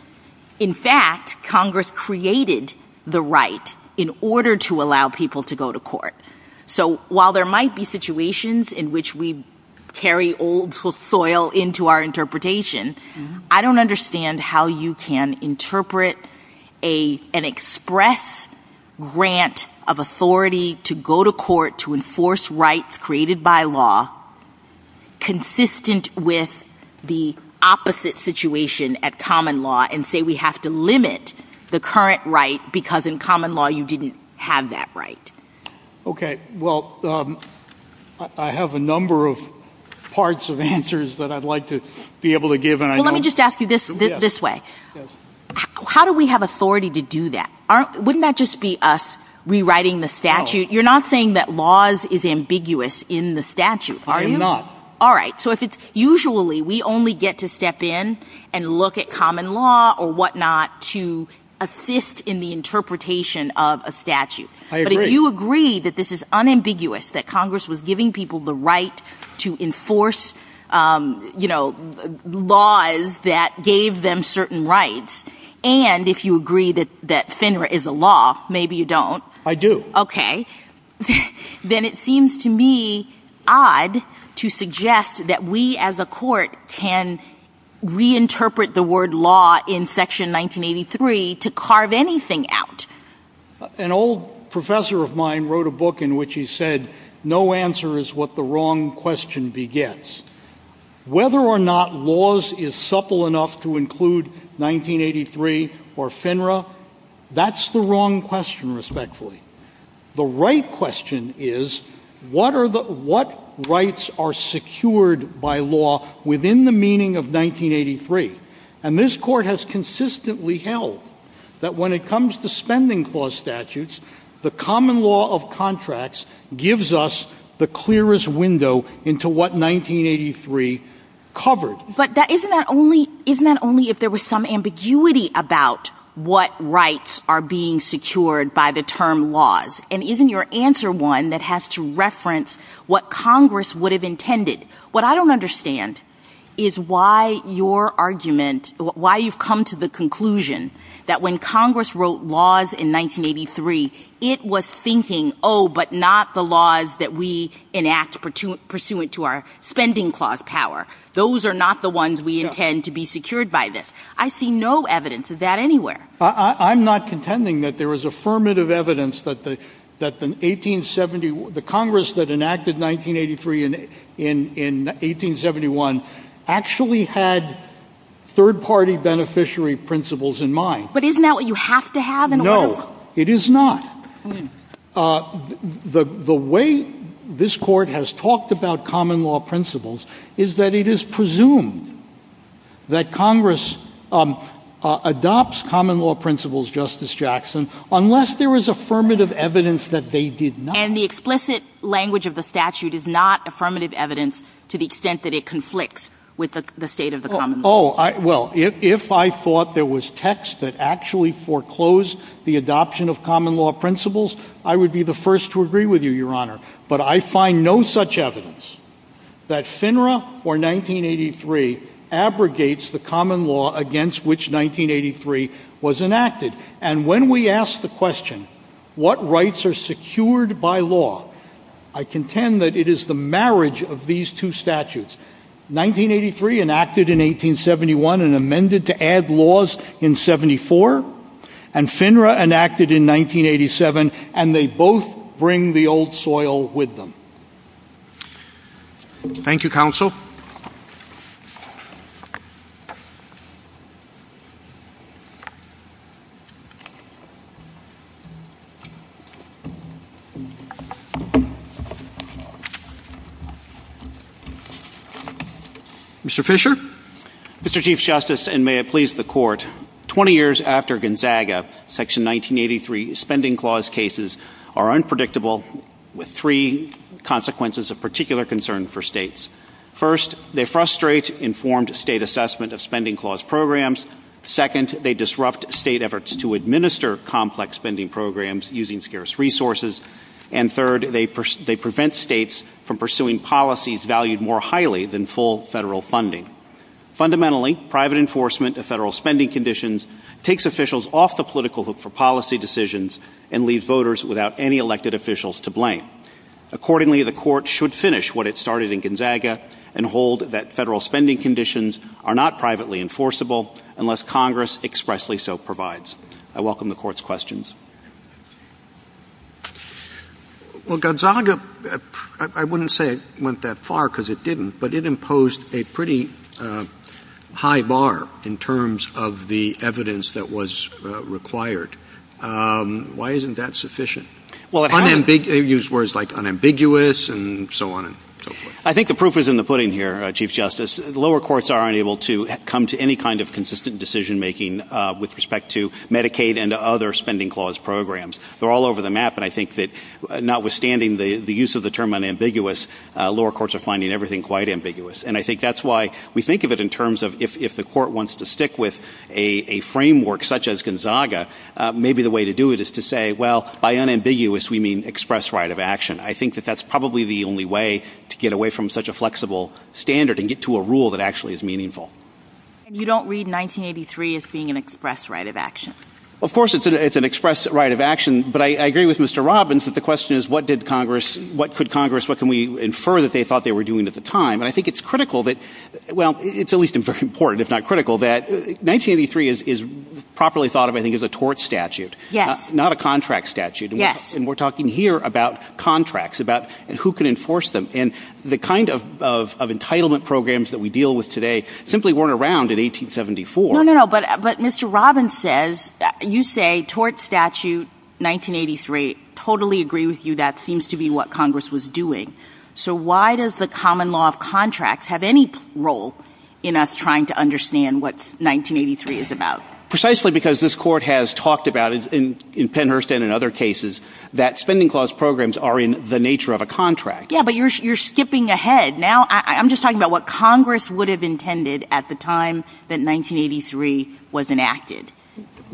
in fact, Congress created the right in order to allow people to go to court. So while there might be situations in which we carry old soil into our interpretation, I don't understand how you can interpret an express grant of authority to go to court to enforce rights created by law consistent with the opposite situation at common law and say we have to limit the current right because in common law you didn't have that right. Okay, well, I have a number of parts of answers that I'd like to be able to give and I don't— Let me just ask you this, this way. How do we have authority to do that? Wouldn't that just be us rewriting the statute? You're not saying that laws is ambiguous in the statute, are you? I am not. All right, so if it's—usually we only get to step in and look at common law or whatnot to assist in the interpretation of a statute. But if you agree that this is unambiguous, that Congress was giving people the right to enforce, you know, laws that gave them certain rights, and if you agree that FINRA is a law, maybe you don't. I do. Okay, then it seems to me odd to suggest that we as a court can reinterpret the word law in Section 1983 to carve anything out. An old professor of mine wrote a book in which he said, no answer is what the wrong question begets. Whether or not laws is supple enough to include 1983 or FINRA, that's the wrong question, respectfully. The right question is, what rights are secured by law within the meaning of 1983? And this court has consistently held that when it comes to spending clause statutes, the common law of contracts gives us the clearest window into what 1983 covered. But isn't that only if there was some ambiguity about what rights are being secured by the term laws? And isn't your answer one that has to reference what Congress would have intended? What I don't understand is why your argument, why you've come to the conclusion that when Congress wrote laws in 1983, it was thinking, oh, but not the laws that we enact pursuant to our spending clause power. Those are not the ones we intend to be secured by this. I see no evidence of that anywhere. I'm not contending that there is affirmative evidence that the 1870, the Congress that enacted 1983 in 1871 actually had third-party beneficiary principles in mind. But isn't that what you have to have in a law? No, it is not. The way this court has talked about common law principles is that it is presumed that Congress adopts common law principles, Justice Jackson, unless there is affirmative evidence that they did not. And the explicit language of the statute is not affirmative evidence to the extent that it conflicts with the state of the common law. Oh, well, if I thought there was text that actually foreclosed the adoption of common law principles, I would be the first to agree with you, Your Honor. But I find no such evidence that FINRA or 1983 abrogates the common law against which 1983 was enacted. And when we ask the question, what rights are secured by law, I contend that it is the marriage of these two statutes. 1983 enacted in 1871 and amended to add laws in 74, and FINRA enacted in 1987, and they both bring the old soil with them. Thank you, Counsel. Mr. Fisher? Mr. Chief Justice, and may it please the Court, 20 years after Gonzaga, Section 1983 spending clause cases are unpredictable with three consequences of particular concern for states. First, they frustrate informed state assessment of spending clause programs. Second, they disrupt state efforts to administer complex spending programs using scarce resources. And third, they prevent states from pursuing policies valued more highly than full federal funding. Fundamentally, private enforcement of federal spending conditions takes officials off the political hook for policy decisions and leave voters without any elected officials to blame. Accordingly, the Court should finish what it started in Gonzaga and hold that federal spending conditions are not privately enforceable unless Congress expressly so provides. I welcome the Court's questions. Well, Gonzaga, I wouldn't say it went that far because it didn't, but it imposed a pretty high bar in terms of the evidence that was required. Why isn't that sufficient? Well, it used words like unambiguous and so on and so forth. I think the proof is in the pudding here, Chief Justice. Lower courts aren't able to come to any kind of consistent decision-making with respect to Medicaid and other spending clause programs. They're all over the map, and I think that notwithstanding the use of the term unambiguous, lower courts are finding everything quite ambiguous. And I think that's why we think of it in terms of if the Court wants to stick with a framework such as Gonzaga, maybe the way to do it is to say, well, by unambiguous, we mean express right of action. I think that that's probably the only way to get away from such a flexible standard and get to a rule that actually is meaningful. And you don't read 1983 as being an express right of action? Of course it's an express right of action, but I agree with Mr. Robbins that the question is what did Congress, what could Congress, what can we infer that they thought they were doing at the time? And I think it's critical that, well, it's always important, if not critical, that 1983 is properly thought of, I think, as a tort statute, not a contract statute. And we're talking here about contracts, about who can enforce them. And the kind of entitlement programs that we deal with today simply weren't around in 1874. No, no, no, but Mr. Robbins says, you say tort statute 1983, totally agree with you, that seems to be what Congress was doing. So why does the common law of contracts have any role in us trying to understand what 1983 is about? Precisely because this Court has talked about it in Pennhurst and in other cases that spending clause programs are in the nature of a contract. Yeah, but you're skipping ahead. Now, I'm just talking about what Congress would have intended at the time that 1983 was enacted.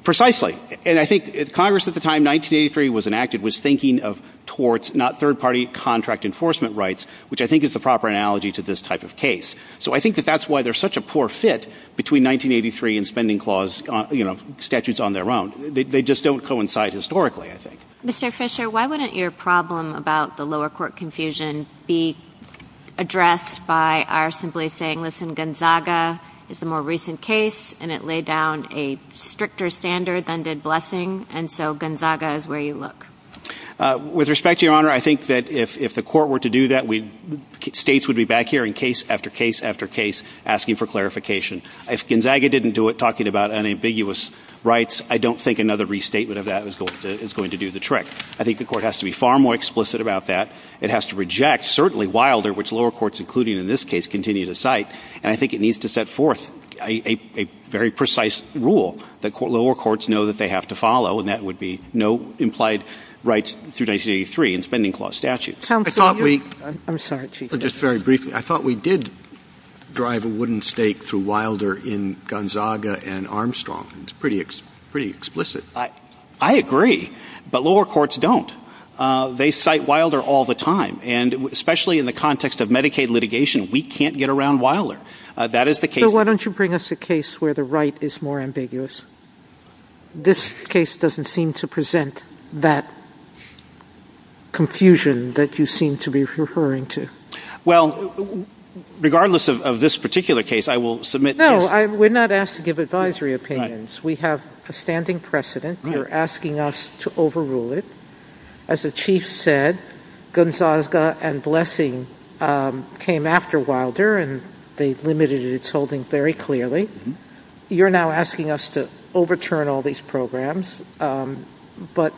Precisely, and I think Congress at the time 1983 was enacted was thinking of torts, not third-party contract enforcement rights, which I think is the proper analogy to this type of case. So I think that that's why there's such a poor fit between 1983 and spending clause, you know, statutes on their own. They just don't coincide historically, I think. Mr. Fisher, why wouldn't your problem about the lower court confusion be addressed by our simply saying, listen, Gonzaga is a more recent case and it laid down a stricter standard than did Blessing, and so Gonzaga is where you look? With respect to Your Honor, I think that if the Court were to do that, states would be back here in case after case after case asking for clarification. If Gonzaga didn't do it, talking about unambiguous rights, I don't think another restatement of that is going to do the trick. I think the Court has to be far more explicit about that. It has to reject, certainly Wilder, which lower courts, including in this case, continue to cite, and I think it needs to set forth a very precise rule that lower courts know that they have to follow, and that would be no implied rights through 1983 in spending clause statutes. I'm sorry, Chief Justice. Just very briefly, I thought we did drive a wooden stake through Wilder in Gonzaga and Armstrong. It's pretty explicit. I agree, but lower courts don't. They cite Wilder all the time, and especially in the context of Medicaid litigation, we can't get around Wilder. That is the case. So why don't you bring us a case where the right is more ambiguous? This case doesn't seem to present that confusion that you seem to be referring to. Well, regardless of this particular case, I will submit... No, we're not asked to give advisory opinions. We have a standing precedent. You're asking us to overrule it. As the Chief said, Gonzaga and Blessing came after Wilder, and they've limited its holding very clearly. You're now asking us to overturn all these programs, but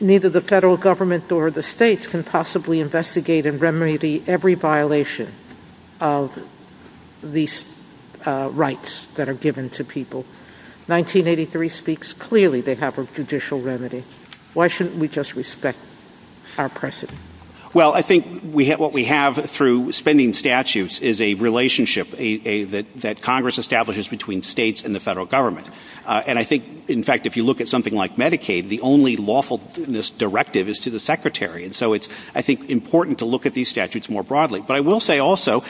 neither the federal government or the states can possibly investigate and remedy every violation of these rights that are given to people. 1983 speaks clearly. They have a judicial remedy. Why shouldn't we just respect our precedent? Well, I think what we have through spending statutes is a relationship that Congress establishes between states and the federal government. And I think, in fact, if you look at something like Medicaid, the only lawfulness directive is to the Secretary. And so it's, I think, important to look at these statutes more broadly. But I will say also,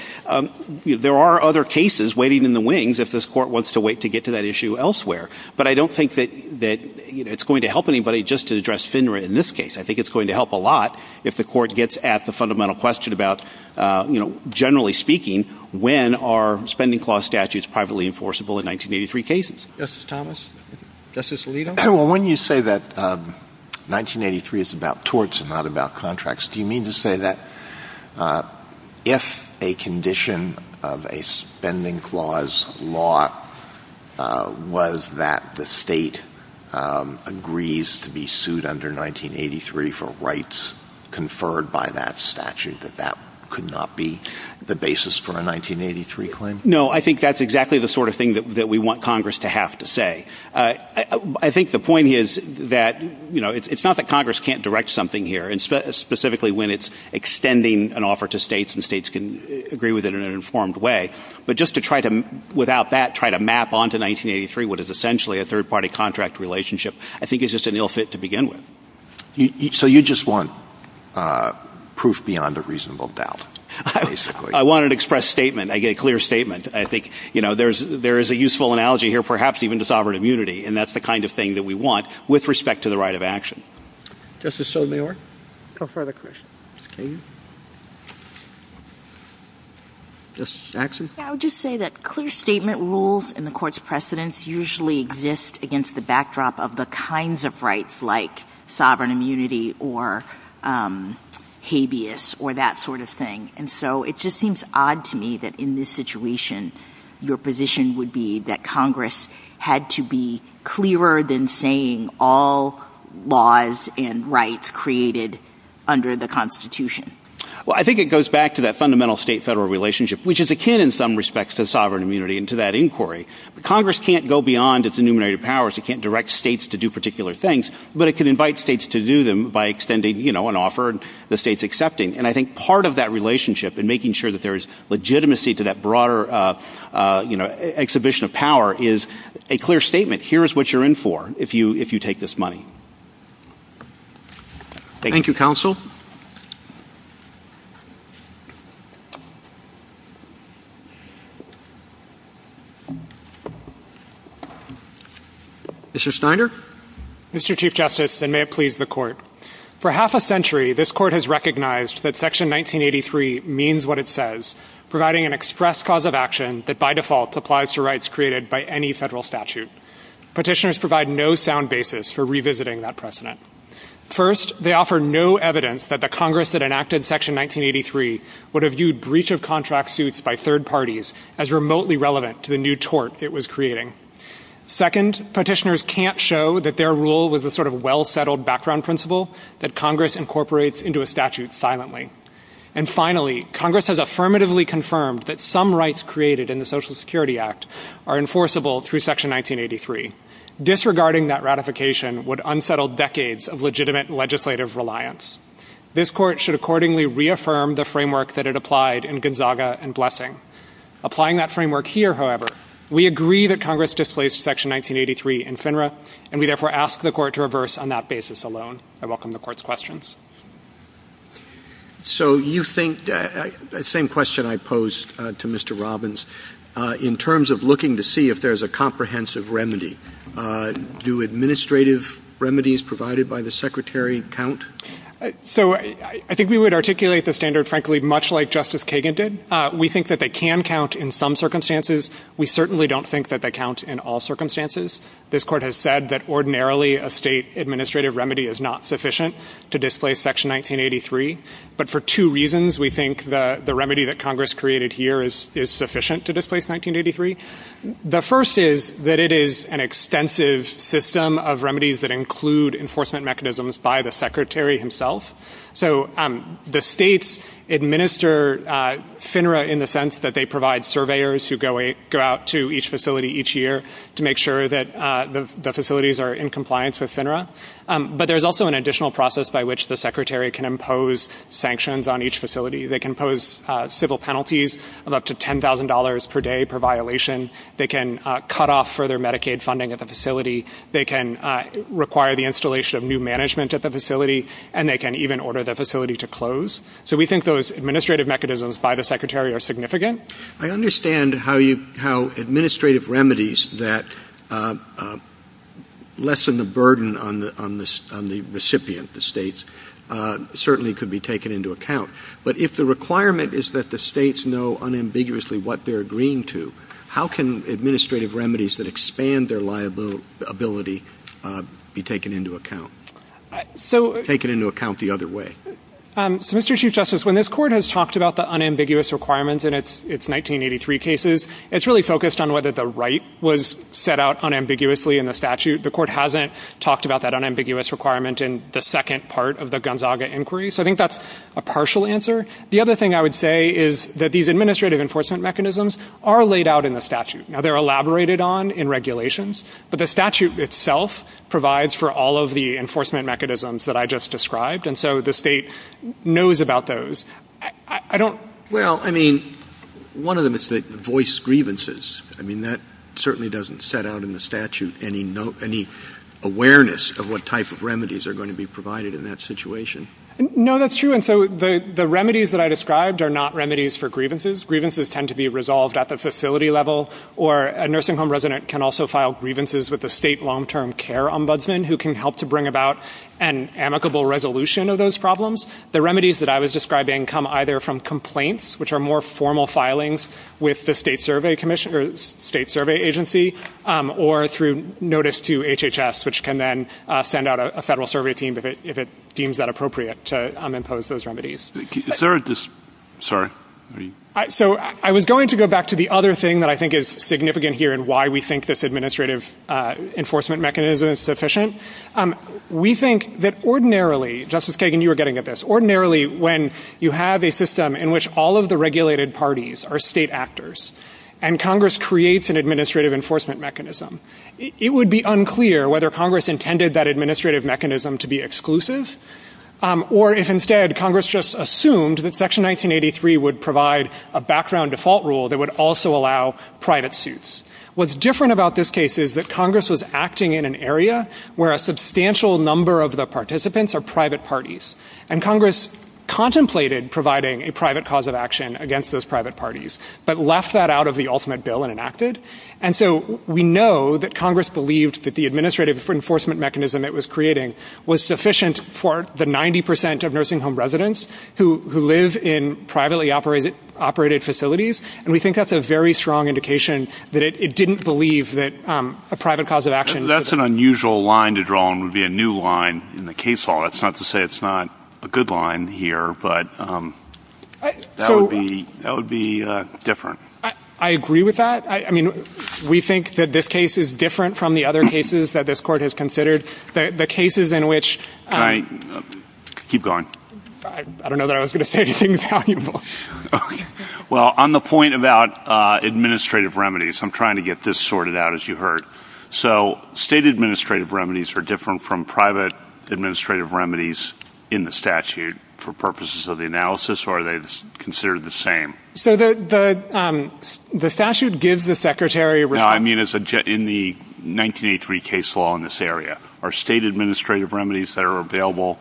there are other cases waiting in the wings if this court wants to wait to get to that issue elsewhere. But I don't think that, you know, it's going to help anybody just to address FINRA in this case. I think it's going to help a lot if the court gets at the fundamental question about, you know, generally speaking, when are spending clause statutes privately enforceable in 1983 cases? Justice Thomas? Justice Alito? Well, when you say that 1983 is about torts and not about contracts, do you mean to say that if a condition of a spending clause law was that the state agrees to be sued under 1983 for rights conferred by that statute, that that could not be the basis for a 1983 claim? No, I think that's exactly the sort of thing that we want Congress to have to say. I think the point is that, you know, it's not that Congress can't direct something here. And specifically, when it's extending an offer to states and states can agree with it in an informed way, but just to try to, without that, try to map onto 1983, what is essentially a third-party contract relationship, I think is just an ill fit to begin with. So you just want proof beyond a reasonable doubt, basically? I wanted to express statement, a clear statement. I think, you know, there is a useful analogy here, perhaps even to sovereign immunity. And that's the kind of thing that we want with respect to the right of action. Justice Sotomayor? No further questions. Maybe? Justice Axel? I would just say that clear statement rules and the court's precedents usually exist against the backdrop of the kinds of rights like sovereign immunity or habeas or that sort of thing. And so it just seems odd to me that in this situation, your position would be that Congress had to be clearer than saying all laws and rights created under the Constitution. Well, I think it goes back to that fundamental state-federal relationship, which is akin in some respects to sovereign immunity and to that inquiry. Congress can't go beyond its numerator powers. It can't direct states to do particular things, but it can invite states to do them by extending, you know, an offer the state's accepting. And I think part of that relationship and making sure that there's legitimacy to that broader, you know, exhibition of power is a clear statement. Here is what you're in for if you take this money. Thank you, counsel. Mr. Snyder? Mr. Chief Justice, and may it please the court. For half a century, this court has recognized that Section 1983 means what it says, providing an express cause of action that by default applies to rights created by any federal statute. Petitioners provide no sound basis for revisiting that precedent. First, they offer no evidence that the Congress that enacted Section 1983 would have viewed breach of contract suits by third parties as remotely relevant to the new tort it was creating. Second, petitioners can't show that their rule was a sort of well-settled background principle that Congress incorporates into a statute silently. And finally, Congress has affirmatively confirmed that some rights created in the Social Security Act are enforceable through Section 1983. Disregarding that ratification would unsettle decades of legitimate legislative reliance. This court should accordingly reaffirm the framework that it applied in Gonzaga and Blessing. Applying that framework here, however, we agree that Congress displaced Section 1983 in FINRA, and we therefore ask the court to reverse on that basis alone. I welcome the court's questions. So you think that same question I posed to Mr. Robbins, in terms of looking to see if there's a comprehensive remedy, do administrative remedies provided by the Secretary count? So I think we would articulate the standard, frankly, much like Justice Kagan did. We think that they can count in some circumstances. We certainly don't think that they count in all circumstances. This court has said that ordinarily a state administrative remedy is not sufficient to displace Section 1983, but for two reasons we think the remedy that Congress created here is sufficient to displace 1983. The first is that it is an extensive system of remedies that include enforcement mechanisms by the Secretary himself. So the states administer FINRA in the sense that they provide surveyors who go out to each facility each year to make sure that the facilities are in compliance with FINRA. But there's also an additional process by which the Secretary can impose sanctions on each facility. They can impose civil penalties of up to $10,000 per day per violation. They can cut off further Medicaid funding at the facility. They can require the installation of new management at the facility, and they can even order the facility to close. So we think those administrative mechanisms by the Secretary are significant. I understand how you, how administrative remedies that lessen the burden on the recipient, the states, certainly could be taken into account. But if the requirement is that the states know unambiguously what they're agreeing to, how can administrative remedies that expand their liability be taken into account? Taken into account the other way. So Mr. Chief Justice, when this court has talked about the unambiguous requirements in its 1983 cases, it's really focused on whether the right was set out unambiguously in the statute. The court hasn't talked about that unambiguous requirement in the second part of the Gonzaga inquiry. So I think that's a partial answer. The other thing I would say is that these administrative enforcement mechanisms are laid out in the statute. Now they're elaborated on in regulations, but the statute itself provides for all of the enforcement mechanisms that I just described. And so the state knows about those. I don't. Well, I mean, one of them is that voice grievances. I mean, that certainly doesn't set out in the statute any awareness of what type of remedies are going to be provided in that situation. No, that's true. And so the remedies that I described are not remedies for grievances. Grievances tend to be resolved at the facility level. Or a nursing home resident can also file grievances with the state long-term care ombudsman who can help to bring about an amicable resolution of those problems. The remedies that I was describing come either from complaints, which are more formal filings with the state survey commission or state survey agency, or through notice to HHS, which can then send out a federal survey team if it deems that appropriate to impose those remedies. Is there a, sorry. So I was going to go back to the other thing that I think is significant here in why we think this administrative enforcement mechanism is sufficient. We think that ordinarily, Justice Kagan, you were getting at this. Ordinarily, when you have a system in which all of the regulated parties are state actors and Congress creates an administrative enforcement mechanism, it would be unclear whether Congress intended that administrative mechanism to be exclusive. Or if instead Congress just assumed that Section 1983 would provide a background default rule that would also allow private suits. What's different about this case is that Congress was acting in an area where a substantial number of the participants are private parties. And Congress contemplated providing a private cause of action against those private parties, but left that out of the ultimate bill and enacted. And so we know that Congress believed that the administrative enforcement mechanism that it was creating was sufficient for the 90% of nursing home residents who live in privately operated facilities. And we think that's a very strong indication that it didn't believe that a private cause of action. That's an unusual line to draw and would be a new line in the case law. It's not to say it's not a good line here, but that would be different. I agree with that. I mean, we think that this case is different from the other cases that this court has considered. The cases in which. Keep going. I don't know that I was going to say anything valuable. Well, on the point about administrative remedies, I'm trying to get this sorted out, as you heard. So state administrative remedies are different from private administrative remedies in the statute for purposes of the analysis, or are they considered the same? So the statute gives the secretary. No, I mean, it's in the 1983 case law in this area. Are state administrative remedies that are available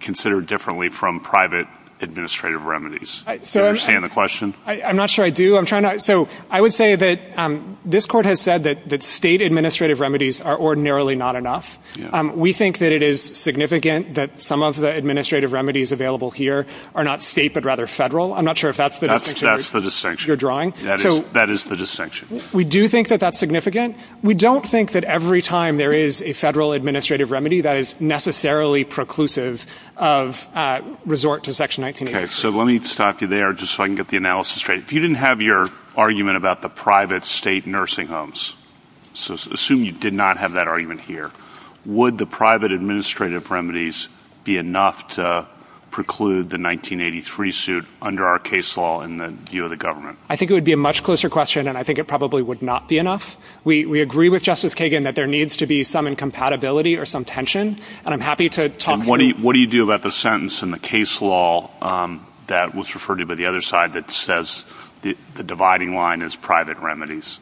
considered differently from private administrative remedies? I understand the question. I'm not sure I do. I'm trying to. So I would say that this court has said that state administrative remedies are ordinarily not enough. We think that it is significant that some of the administrative remedies available here are not state, but rather federal. I'm not sure if that's the distinction you're drawing. That is the distinction. We do think that that's significant. We don't think that every time there is a federal administrative remedy, that is necessarily preclusive of resort to Section 1983. Okay, so let me stop you there just so I can get the analysis straight. If you didn't have your argument about the private state nursing homes, so assume you did not have that argument here, would the private administrative remedies be enough to preclude the 1983 suit under our case law in the view of the government? I think it would be a much closer question, and I think it probably would not be enough. We agree with Justice Kagan that there needs to be some incompatibility or some tension, and I'm happy to talk to you. What do you do about the sentence in the case law that was referred to by the other side that says the dividing line is private remedies?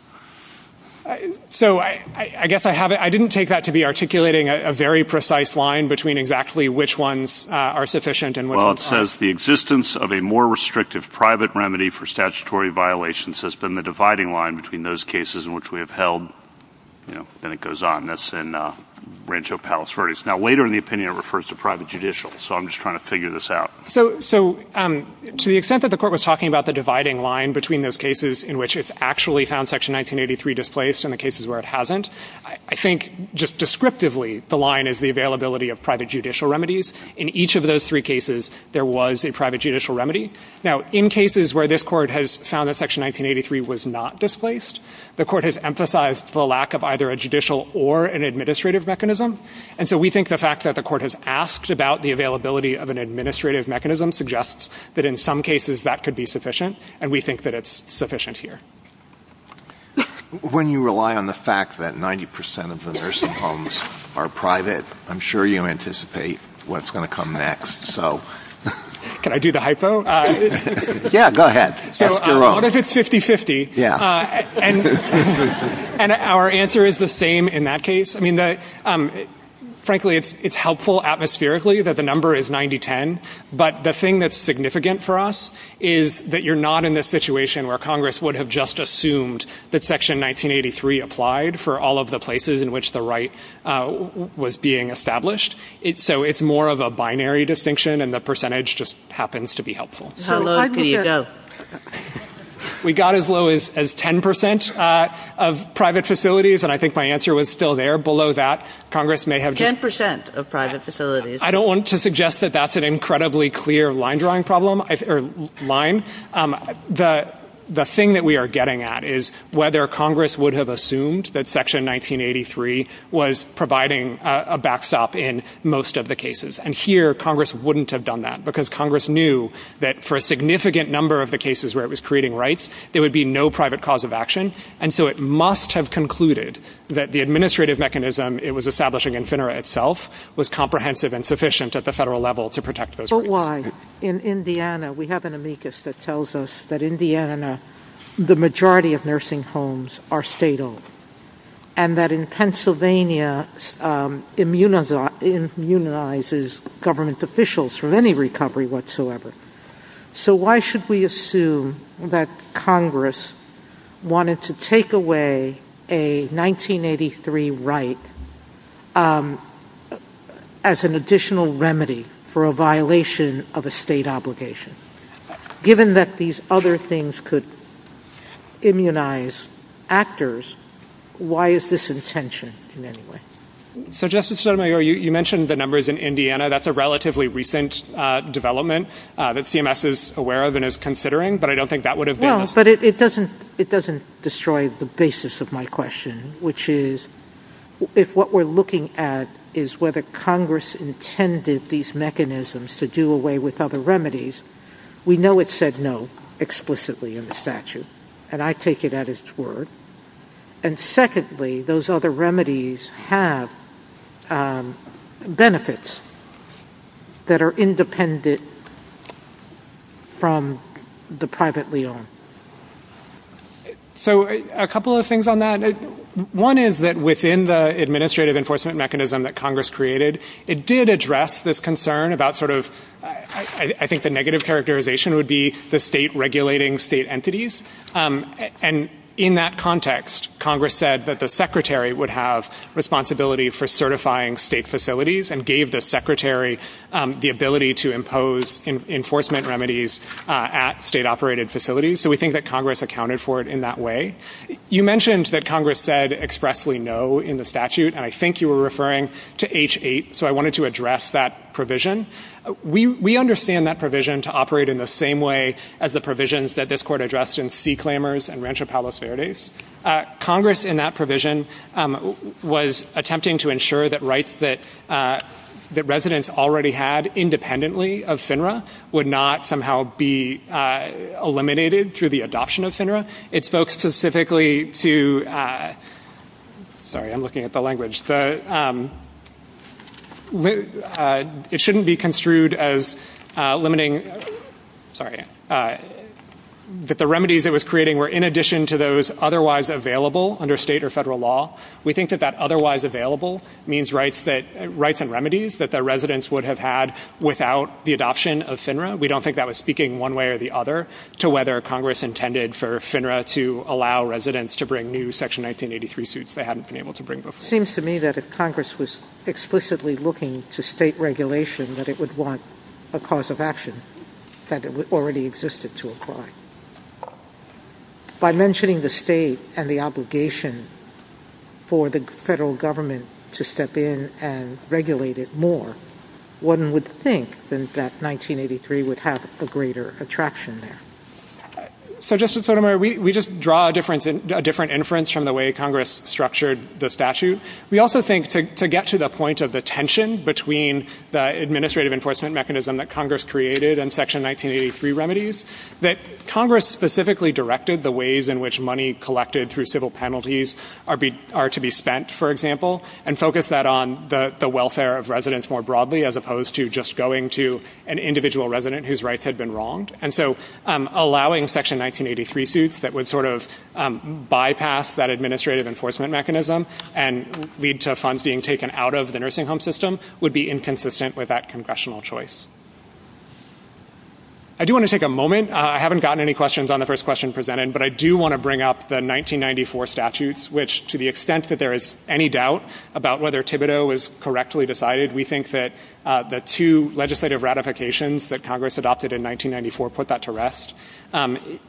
So I guess I didn't take that to be articulating a very precise line between exactly which ones are sufficient and which are not. Well, it says the existence of a more restrictive private remedy for statutory violations has been the dividing line between those cases in which we have held, you know, and it goes on. That's in Rancho Palos Verdes. Now, later in the opinion, it refers to private judicial, so I'm just trying to figure this out. So to the extent that the court was talking about the dividing line between those cases in which it's actually found Section 1983 displaced and the cases where it hasn't, I think just descriptively the line is the availability of private judicial remedies. In each of those three cases, there was a private judicial remedy. Now, in cases where this court has found that Section 1983 was not displaced, the court has emphasized the lack of either a judicial or an administrative mechanism. And so we think the fact that the court has asked about the availability of an administrative mechanism suggests that in some cases that could be sufficient, and we think that it's sufficient here. When you rely on the fact that 90% of the nursing homes are private, I'm sure you anticipate what's going to come next, so... Can I do the hypo? Yeah, go ahead. So what if it's 50-50? Yeah. And our answer is the same in that case. I mean, frankly, it's helpful atmospherically that the number is 90-10, but the thing that's significant for us is that you're not in this situation where Congress would have just assumed that Section 1983 applied for all of the places in which the right was being established. So it's more of a binary distinction, and the percentage just happens to be helpful. How low do you go? We got as low as 10% of private facilities, and I think my answer was still there. Below that, Congress may have... Ten percent of private facilities. I don't want to suggest that that's an incredibly clear line-drawing problem, or line. The thing that we are getting at is whether Congress would have assumed that Section 1983 was providing a backstop in most of the cases. And here, Congress wouldn't have done that, because Congress knew that for a significant number of the cases where it was creating rights, there would be no private cause of action. And so it must have concluded that the administrative mechanism it was establishing in FINRA itself was comprehensive and sufficient at the federal level to protect those rights. But why? In Indiana, we have an amicus that tells us that, in Indiana, the majority of nursing homes are state-owned, and that in Pennsylvania immunizes government officials from any recovery whatsoever. So why should we assume that Congress wanted to take away a 1983 right as an additional remedy for a violation of a state obligation, given that these other things could immunize actors? Why is this intention, in any way? So, Justice Sotomayor, you mentioned the numbers in Indiana. That's a relatively recent development that CMS is aware of and is considering, but I don't think that would have... Well, but it doesn't destroy the basis of my question, which is, if what we're looking at is whether Congress intended these mechanisms to do away with other remedies, we know it said no explicitly in the statute, and I take it at its word. And secondly, those other remedies have benefits that are independent from the privately owned. So a couple of things on that. One is that within the administrative enforcement mechanism that Congress created, it did address this concern about sort of... I think the negative characterization would be the state regulating state entities. And in that context, Congress said that the secretary would have responsibility for certifying state facilities and gave the secretary the ability to impose enforcement remedies at state-operated facilities. So we think that Congress accounted for it in that way. You mentioned that Congress said expressly no in the statute, and I think you were referring to H-8, so I wanted to address that provision. We understand that provision to operate in the same way as the provisions that this court addressed in C Claimers and Rancho Palos Verdes. Congress in that provision was attempting to ensure that rights that residents already had independently of FINRA would not somehow be eliminated through the adoption of FINRA. It spoke specifically to... Sorry, I'm looking at the language. It shouldn't be construed as limiting... Sorry, that the remedies it was creating were in addition to those otherwise available under state or federal law. We think that that otherwise available means rights and remedies that the residents would have had without the adoption of FINRA. We don't think that was speaking one way or the other to whether Congress intended for FINRA to allow residents to bring new Section 1983 suits that they haven't been able to bring before. Seems to me that if Congress was explicitly looking to state regulation that it would want a cause of action that it already existed to apply. By mentioning the state and the obligation for the federal government to step in and regulate it more, one would think that 1983 would have a greater attraction there. So, Justice Sotomayor, we just draw a different inference from the way Congress structured the statute. We also think to get to the point of the tension between the administrative enforcement mechanism that Congress created and Section 1983 remedies, that Congress specifically directed the ways in which money collected through civil penalties are to be spent, for example, and focused that on the welfare of residents more broadly as opposed to just going to an individual resident whose rights had been wronged. And so, allowing Section 1983 suits that would sort of bypass that administrative enforcement mechanism and lead to funds being taken out of the nursing home system would be inconsistent with that congressional choice. I do want to take a moment. I haven't gotten any questions on the first question presented, but I do want to bring up the 1994 statutes, which to the extent that there is any doubt about whether Thibodeau was correctly decided, we think that the two legislative ratifications that Congress adopted in 1994 put that to rest.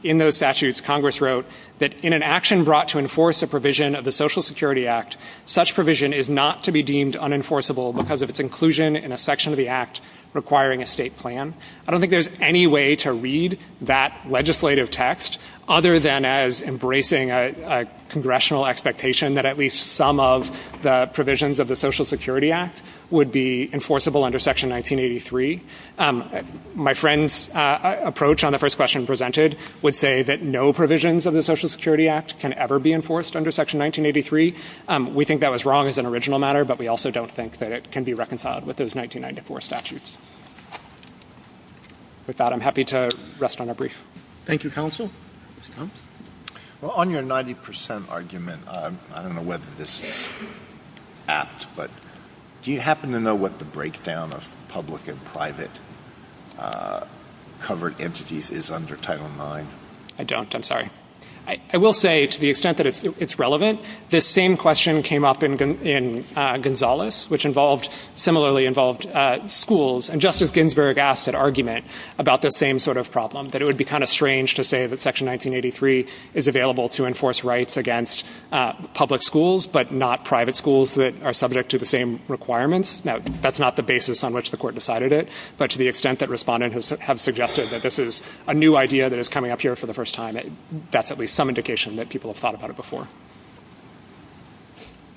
In those statutes, Congress wrote that in an action brought to enforce a provision of the Social Security Act, such provision is not to be deemed unenforceable because of its inclusion in a section of the act requiring a state plan. I don't think there's any way to read that legislative text other than as embracing a congressional expectation that at least some of the provisions of the Social Security Act would be enforceable under Section 1983. My friend's approach on the first question presented would say that no provisions of the Social Security Act can ever be enforced under Section 1983. We think that was wrong as an original matter, but we also don't think that it can be reconciled with those 1994 statutes. With that, I'm happy to rest on a brief. Thank you, Counsel. Well, on your 90% argument, I don't know whether this is apt, but do you happen to know what the breakdown of public and private covered entities is under Title IX? I don't. I'm sorry. I will say to the extent that it's relevant, this same question came up in Gonzales, which involved, similarly involved schools. And Justice Ginsburg asked that argument about the same sort of problem, that it would be kind of strange to say that Section 1983 is available to enforce rights against public schools, but not private schools that are subject to the same requirements. Now, that's not the basis on which the court decided it, but to the extent that respondents have suggested that this is a new idea that is coming up here for the first time, that's at least some indication that people have thought about it before.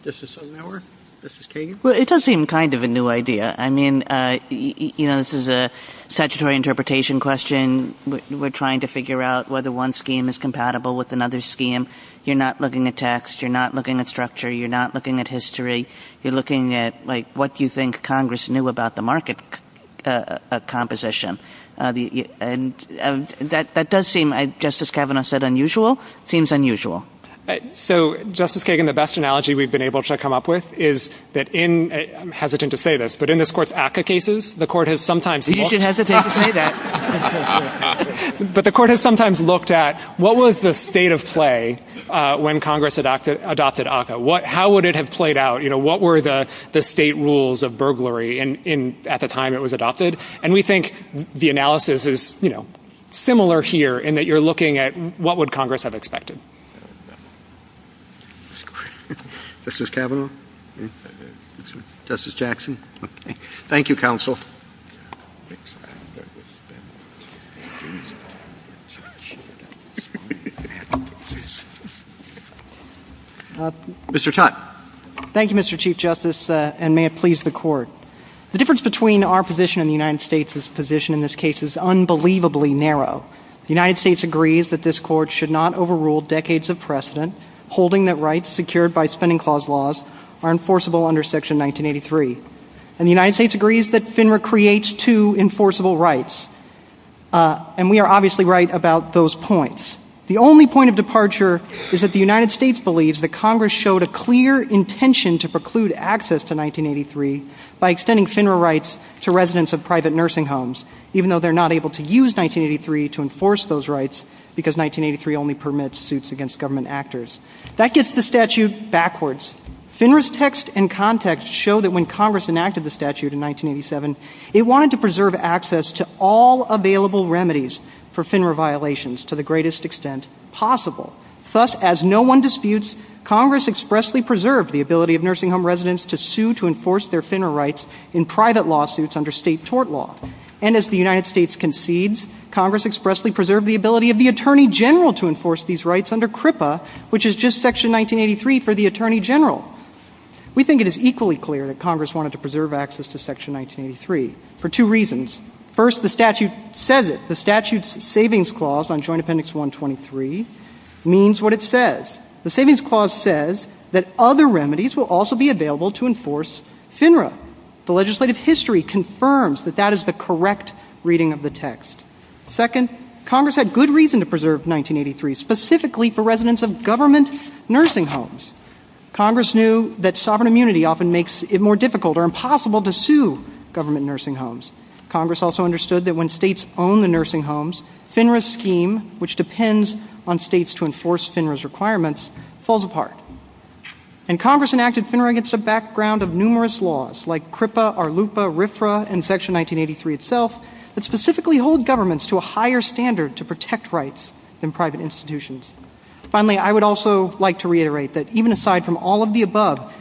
This is Sonauer. This is Kagan. Well, it does seem kind of a new idea. I mean, you know, this is a statutory interpretation question. We're trying to figure out whether one scheme is compatible with another scheme. You're not looking at text. You're not looking at structure. You're not looking at history. You're looking at, like, what you think Congress knew about the market composition. And that does seem, just as Kavanaugh said, unusual, seems unusual. So, Justice Kagan, the best analogy we've been able to come up with is that in, I'm hesitant to say this, but in this court's ACCA cases, the court has sometimes, the court has sometimes looked at what was the state of play when Congress adopted ACCA? How would it have played out? You know, what were the state rules of burglary at the time it was adopted? And we think the analysis is, you know, similar here in that you're looking at what would Congress have expected. Justice Kavanaugh? Justice Jackson? Thank you, counsel. Mr. Tutte. Thank you, Mr. Chief Justice, and may it please the court. The difference between our position and the United States' position in this case is unbelievably narrow. The United States agrees that this court should not overrule decades of precedent, holding that rights secured by spending clause laws are enforceable under Section 1983. And the United States agrees that FINRA creates two enforceable rights. And we are obviously right about those points. The only point of departure is that the United States believes that Congress showed a clear intention to preclude access to 1983 by extending FINRA rights to residents of private nursing homes, even though they're not able to use 1983 to enforce those rights because 1983 only permits suits against government actors. That gets the statute backwards. FINRA's text and context show that when Congress enacted the statute in 1987, it wanted to preserve access to all available remedies for FINRA violations to the greatest extent possible. Thus, as no one disputes, Congress expressly preserved the ability of nursing home residents to sue to enforce their FINRA rights in private lawsuits under state tort law. And as the United States concedes, Congress expressly preserved the ability of the Attorney General to enforce these rights under CRIPA, which is just Section 1983 for the Attorney General. We think it is equally clear that Congress wanted to preserve access to Section 1983 for two reasons. First, the statute says it. The statute's savings clause on Joint Appendix 123 means what it says. The savings clause says that other remedies will also be available to enforce FINRA. The legislative history confirms that that is the correct reading of the text. Second, Congress had good reason to preserve 1983, specifically for residents of government nursing homes. Congress knew that sovereign immunity often makes it more difficult or impossible to sue government nursing homes. Congress also understood that when states own the nursing homes, FINRA's scheme, which depends on states to enforce FINRA's requirements, falls apart. And Congress enacted FINRA against the background of numerous laws, like CRIPA, ARLUPA, RFRA, and Section 1983 itself, that specifically hold governments to a higher standard to protect rights than private institutions. Finally, I would also like to reiterate that even aside from all of the above,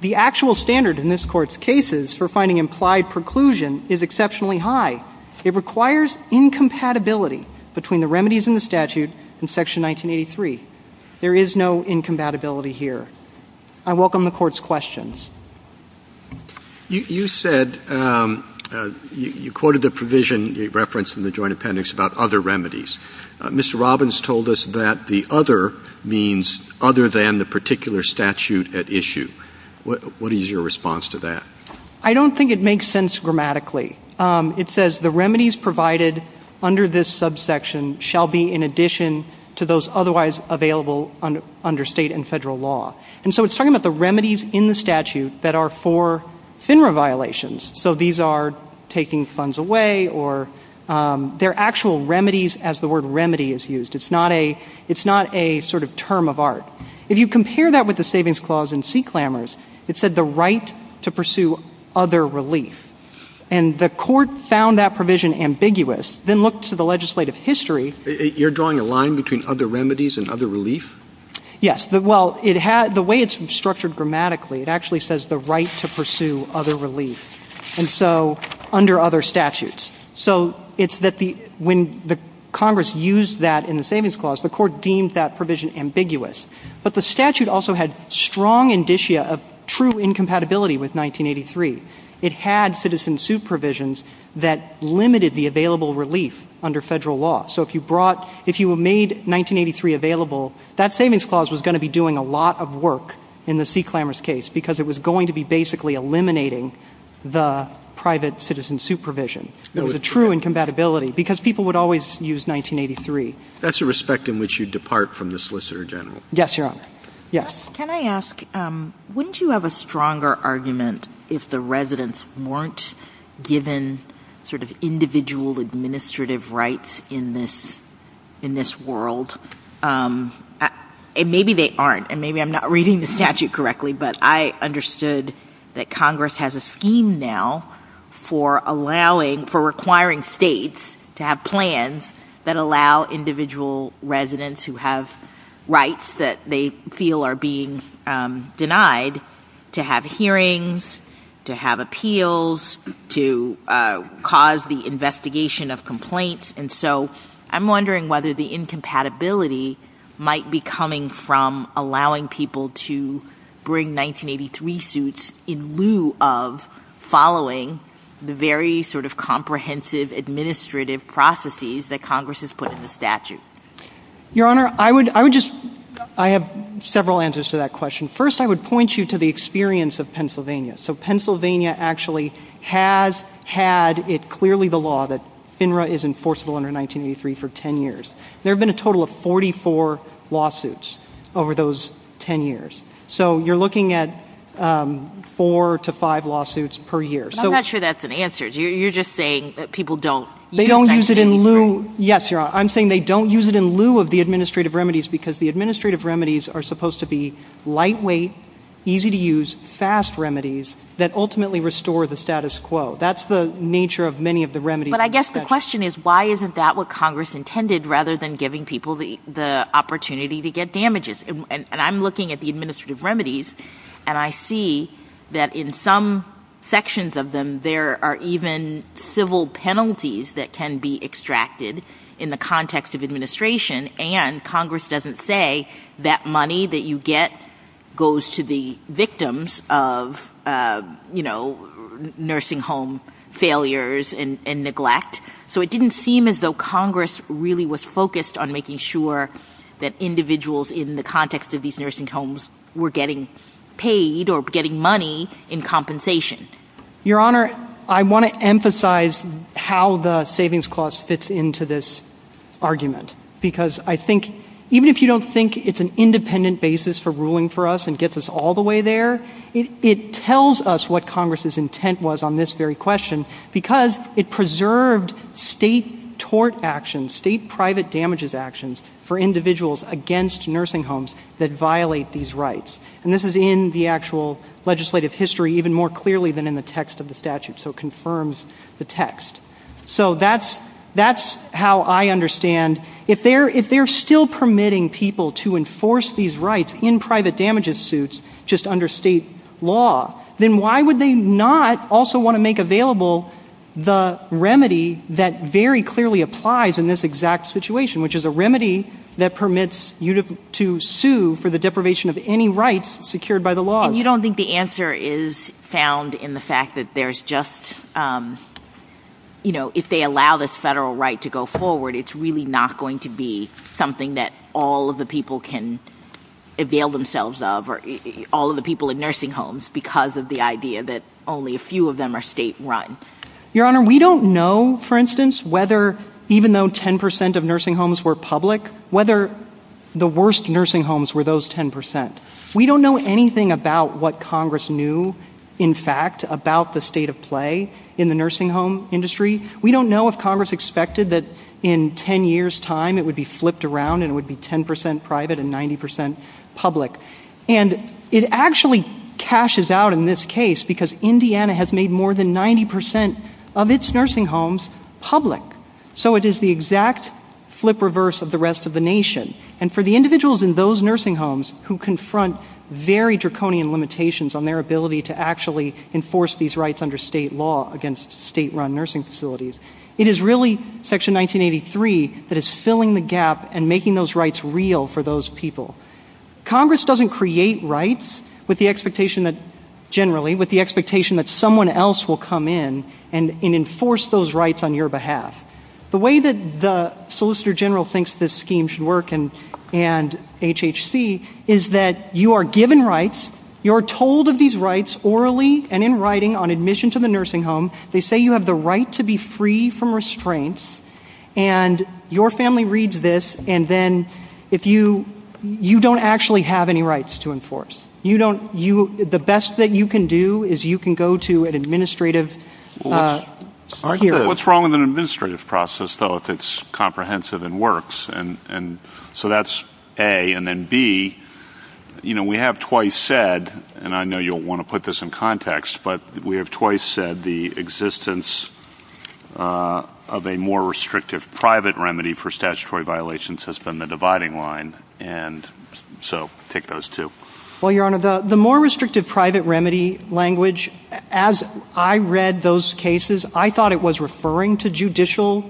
the actual standard in this Court's cases for finding implied preclusion is exceptionally high. It requires incompatibility between the remedies in the statute and Section 1983. There is no incompatibility here. I welcome the Court's questions. You said you quoted the provision you referenced in the joint appendix about other remedies. Mr. Robbins told us that the other means other than the particular statute at issue. What is your response to that? I don't think it makes sense grammatically. It says the remedies provided under this subsection shall be in addition to those otherwise available under state and federal law. And so it's talking about the remedies in the statute that are for FINRA violations. So these are taking funds away or they're actual remedies as the word remedy is used. It's not a sort of term of art. If you compare that with the Savings Clause in Sea Clambers, it said the right to pursue other relief. And the Court found that provision ambiguous, then looked to the legislative history. You're drawing a line between other remedies and other relief? Yes. Well, the way it's structured grammatically, it actually says the right to pursue other relief. And so under other statutes. So it's that when the Congress used that in the Savings Clause, the Court deemed that provision ambiguous. But the statute also had strong indicia of true incompatibility with 1983. It had citizen suit provisions that limited the available relief under federal law. So if you brought, if you made 1983 available, that Savings Clause was going to be doing a lot of work in the Sea Clambers case because it was going to be basically eliminating the private citizen supervision. It was a true incompatibility because people would always use 1983. That's a respect in which you depart from the Solicitor General. Yes, Your Honor. Yes. Can I ask, wouldn't you have a stronger argument if the residents weren't given sort of individual administrative rights in this world? And maybe they aren't. And maybe I'm not reading the statute correctly. But I understood that Congress has a scheme now for allowing, for requiring states to have plans that allow individual residents who have rights that they feel are being denied to have hearings, to have appeals, to cause the investigation of complaints. And so I'm wondering whether the incompatibility might be coming from allowing people to bring 1983 suits in lieu of following the very sort of comprehensive administrative processes that Congress has put in the statute. Your Honor, I would just, I have several answers to that question. First, I would point you to the experience of Pennsylvania. So Pennsylvania actually has had, it's clearly the law that FINRA is enforceable under 1983 for 10 years. There have been a total of 44 lawsuits over those 10 years. So you're looking at four to five lawsuits per year. I'm not sure that's an answer. You're just saying that people don't use 1983? They don't use it in lieu. Yes, Your Honor. I'm saying they don't use it in lieu of the administrative remedies because the administrative remedies are supposed to be lightweight, easy to use, fast remedies that ultimately restore the status quo. That's the nature of many of the remedies. But I guess the question is why isn't that what Congress intended rather than giving people the opportunity to get damages? And I'm looking at the administrative remedies and I see that in some sections of them there are even civil penalties that can be extracted in the context of administration and Congress doesn't say that money that you get goes to the victims of, you know, nursing home failures and neglect. So it didn't seem as though Congress really was focused on making sure that individuals in the context of these nursing homes were getting paid or getting money in compensation. Your Honor, I want to emphasize how the savings cost fits into this argument because I think even if you don't think it's an independent basis for ruling for us and gets us all the way there, it tells us what Congress's intent was on this very question because it preserved state tort actions, state private damages actions for individuals against nursing homes that violate these rights. And this is in the actual legislative history even more clearly than in the text of the statute so it confirms the text. So that's how I understand if they're still permitting people to enforce these rights in private damages suits just under state law, then why would they not also want to make available the remedy that very clearly applies in this exact situation which is a remedy that permits you to sue for the deprivation of any rights secured by the law. And you don't think the answer is found in the fact that there's just, you know, if they allow this federal right to go forward, it's really not going to be something that all of the people can avail themselves of or all of the people in nursing homes because of the idea that only a few of them are state run. Your Honor, we don't know for instance whether even though 10 percent of nursing homes were public, whether the worst nursing homes were those 10 percent. We don't know anything about what Congress knew in fact about the state of play in the nursing home industry. We don't know if Congress expected that in 10 years' time it would be flipped around and it would be 10 percent private and 90 percent public. And it actually cashes out in this case because Indiana has made more than 90 percent of its nursing homes public. So it is the exact flip reverse of the rest of the nation. And for the individuals in those nursing homes who confront very draconian limitations on their ability to actually enforce these rights under state law against state run nursing facilities, it is really Section 1983 that is filling the gap and making those rights real for those people. Congress doesn't create rights with the expectation that generally, with the expectation that someone else will come in and enforce those rights on your behalf. The way that the Solicitor General thinks this scheme should work and HHC is that you are given rights, you are told of these rights orally and in writing on admission to the nursing home, they say you have the right to be free from restraints and your family reads this and then if you, you don't actually have any rights to enforce. You don't, you, the best that you can do is you can go to an administrative. What's wrong with an administrative process though if it's comprehensive and works? And so that's A. And then B, you know, we have twice said and I know you'll want to put this in context but we have twice said the existence of a more restrictive private remedy for statutory violations has been the dividing line and so take those two. Well, Your Honor, the more restrictive private remedy language, as I read those cases, I thought it was referring to judicial,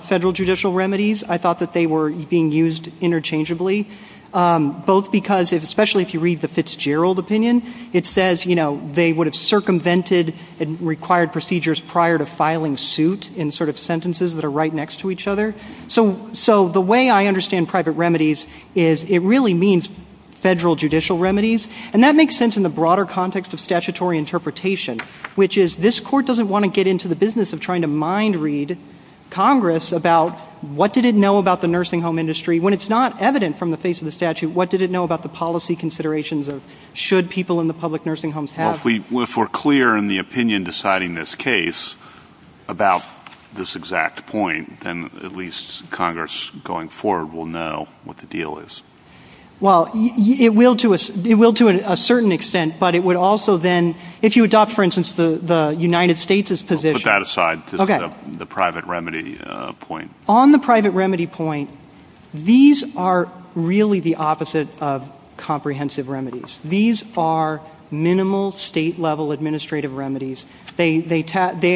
federal judicial remedies. I thought that they were being used interchangeably both because especially if you read the Fitzgerald opinion, it says, you know, they would have circumvented and required procedures prior to filing suit in sort of sentences that are right next to each other. So the way I understand private remedies is it really means federal judicial remedies and that makes sense in the broader context of statutory interpretation which is this court doesn't want to get into the business of trying to mind read Congress about what did it know about the nursing home industry when it's not evident from the face of the statute, what did it know about the policy considerations or should people in the public nursing homes have? Well, if we're clear in the opinion deciding this case about this exact point, then at least Congress going forward will know what the deal is. Well, it will to a certain extent but it would also then, if you adopt, for instance, the United States' position. Put that aside to the private remedy point. On the private remedy point, these are really the opposite of comprehensive remedies. These are minimal state level administrative remedies. They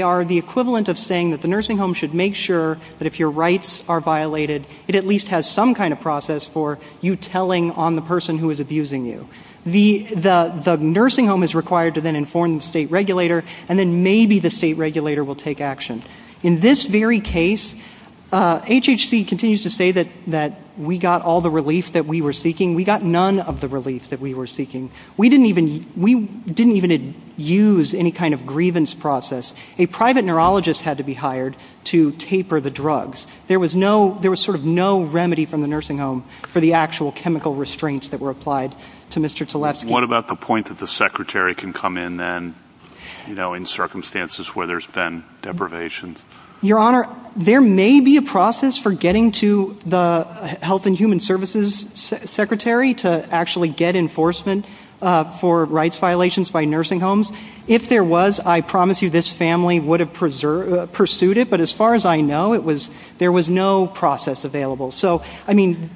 are the equivalent of saying that the nursing home should make sure that if your rights are violated, it at least has some kind of process for you telling on the person who is abusing you. The nursing home is required to then inform the state regulator and then maybe the state regulator will take action. In this very case, HHC continues to say that we got all the relief that we were seeking. We got none of the relief that we were seeking. We didn't even use any kind of grievance process. A private neurologist had to be hired to taper the drugs. There was no, there was sort of no remedy from the nursing home for the actual chemical restraints that were applied to Mr. Tlefsky. What about the point that the secretary can come in then, you know, in circumstances where there's been deprivation? Your Honor, there may be a process for getting to the health and human services secretary to actually get enforcement for rights violations by nursing homes. If there was, I promise you this family would have pursued it. But as far as I know, it was, there was no process available. So, I mean,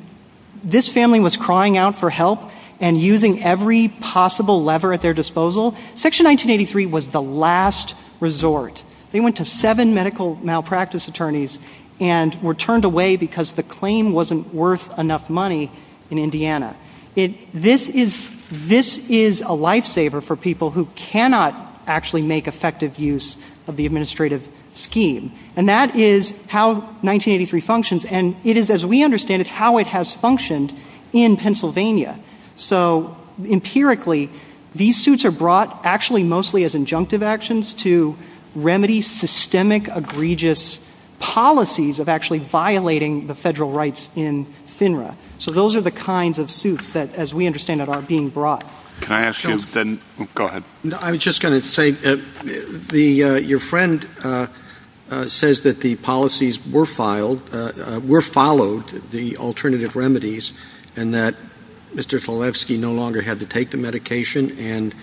this family was crying out for help and using every possible lever at their disposal. Section 1983 was the last resort. They went to seven medical malpractice attorneys and were turned away because the claim wasn't worth enough money in Indiana. It, this is, this is a lifesaver for people who cannot actually make effective use of the administrative scheme, and that is how 1983 functions. And it is, as we understand it, how it has functioned in Pennsylvania. So, empirically, these suits are brought actually mostly as injunctive actions to remedy systemic egregious policies of actually violating the federal rights in FINRA. So, those are the kinds of suits that, as we understand it, are being brought. Can I ask you then, go ahead. I was just going to say, the, your friend says that the policies were filed, were followed, the alternative remedies, and that Mr. Felevsky no longer had to take the medication and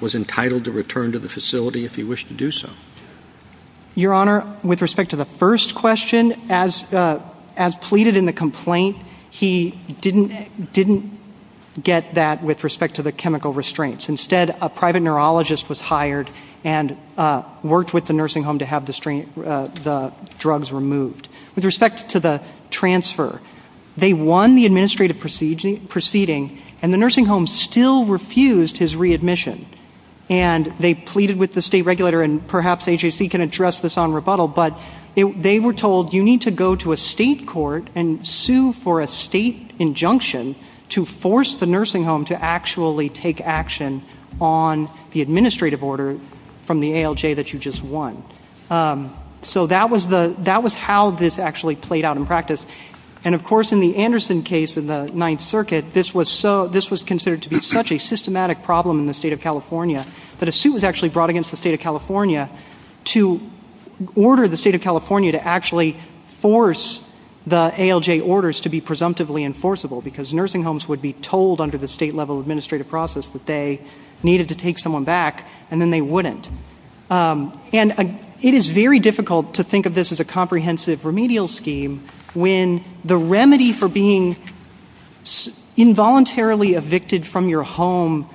was entitled to return to the facility if he wished to do so. Your Honor, with respect to the first question, as, as pleaded in the complaint, he didn't, didn't get that with respect to the chemical restraints. Instead, a private neurologist was hired and worked with the nursing home to have the, the drugs removed. With respect to the transfer, they won the administrative proceeding, and the nursing home still refused his readmission. And they pleaded with the state regulator, and perhaps HEC can address this on rebuttal, but they were told, you need to go to a state court and sue for a state injunction to force the nursing home to actually take action on the administrative order from the ALJ that you just won. So that was the, that was how this actually played out in practice. And of course, in the Anderson case of the Ninth Circuit, this was so, this was considered to be such a systematic problem in the state of California that a suit was actually brought against the state of California to order the state of California to actually force the ALJ orders to be presumptively enforceable, because nursing homes would be told under the state level administrative process that they needed to take someone back, and then they wouldn't. And it is very difficult to think of this as a comprehensive remedial scheme when the remedy for being involuntarily evicted from your home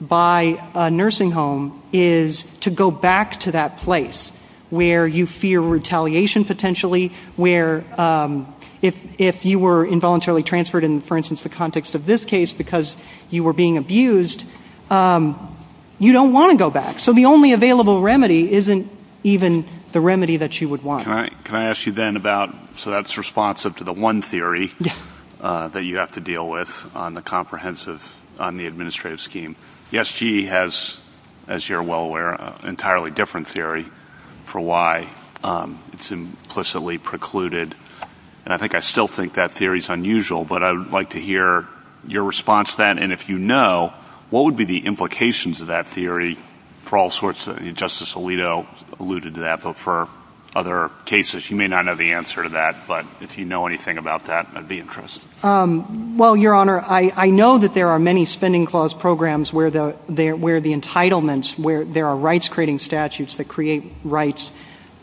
by a nursing home is to go back to that place where you fear retaliation potentially, where if, if you were involuntarily transferred in, for instance, the context of this case because you were being abused, you don't want to go back. So the only available remedy isn't even the remedy that you would want. Can I ask you then about, so that's responsive to the one theory that you have to deal with on the comprehensive, on the administrative scheme. Yes, GE has, as you're well aware, an entirely different theory for why it's implicitly precluded. And I think I still think that theory is unusual, but I would like to hear your response to that. And if you know, what would be the implications of that theory for all sorts of, Justice Alito alluded to that, but for other cases. You may not know the answer to that, but if you know anything about that, I'd be interested. Well, Your Honor, I, I know that there are many spending clause programs where the, where the entitlements, where there are rights creating statutes that create rights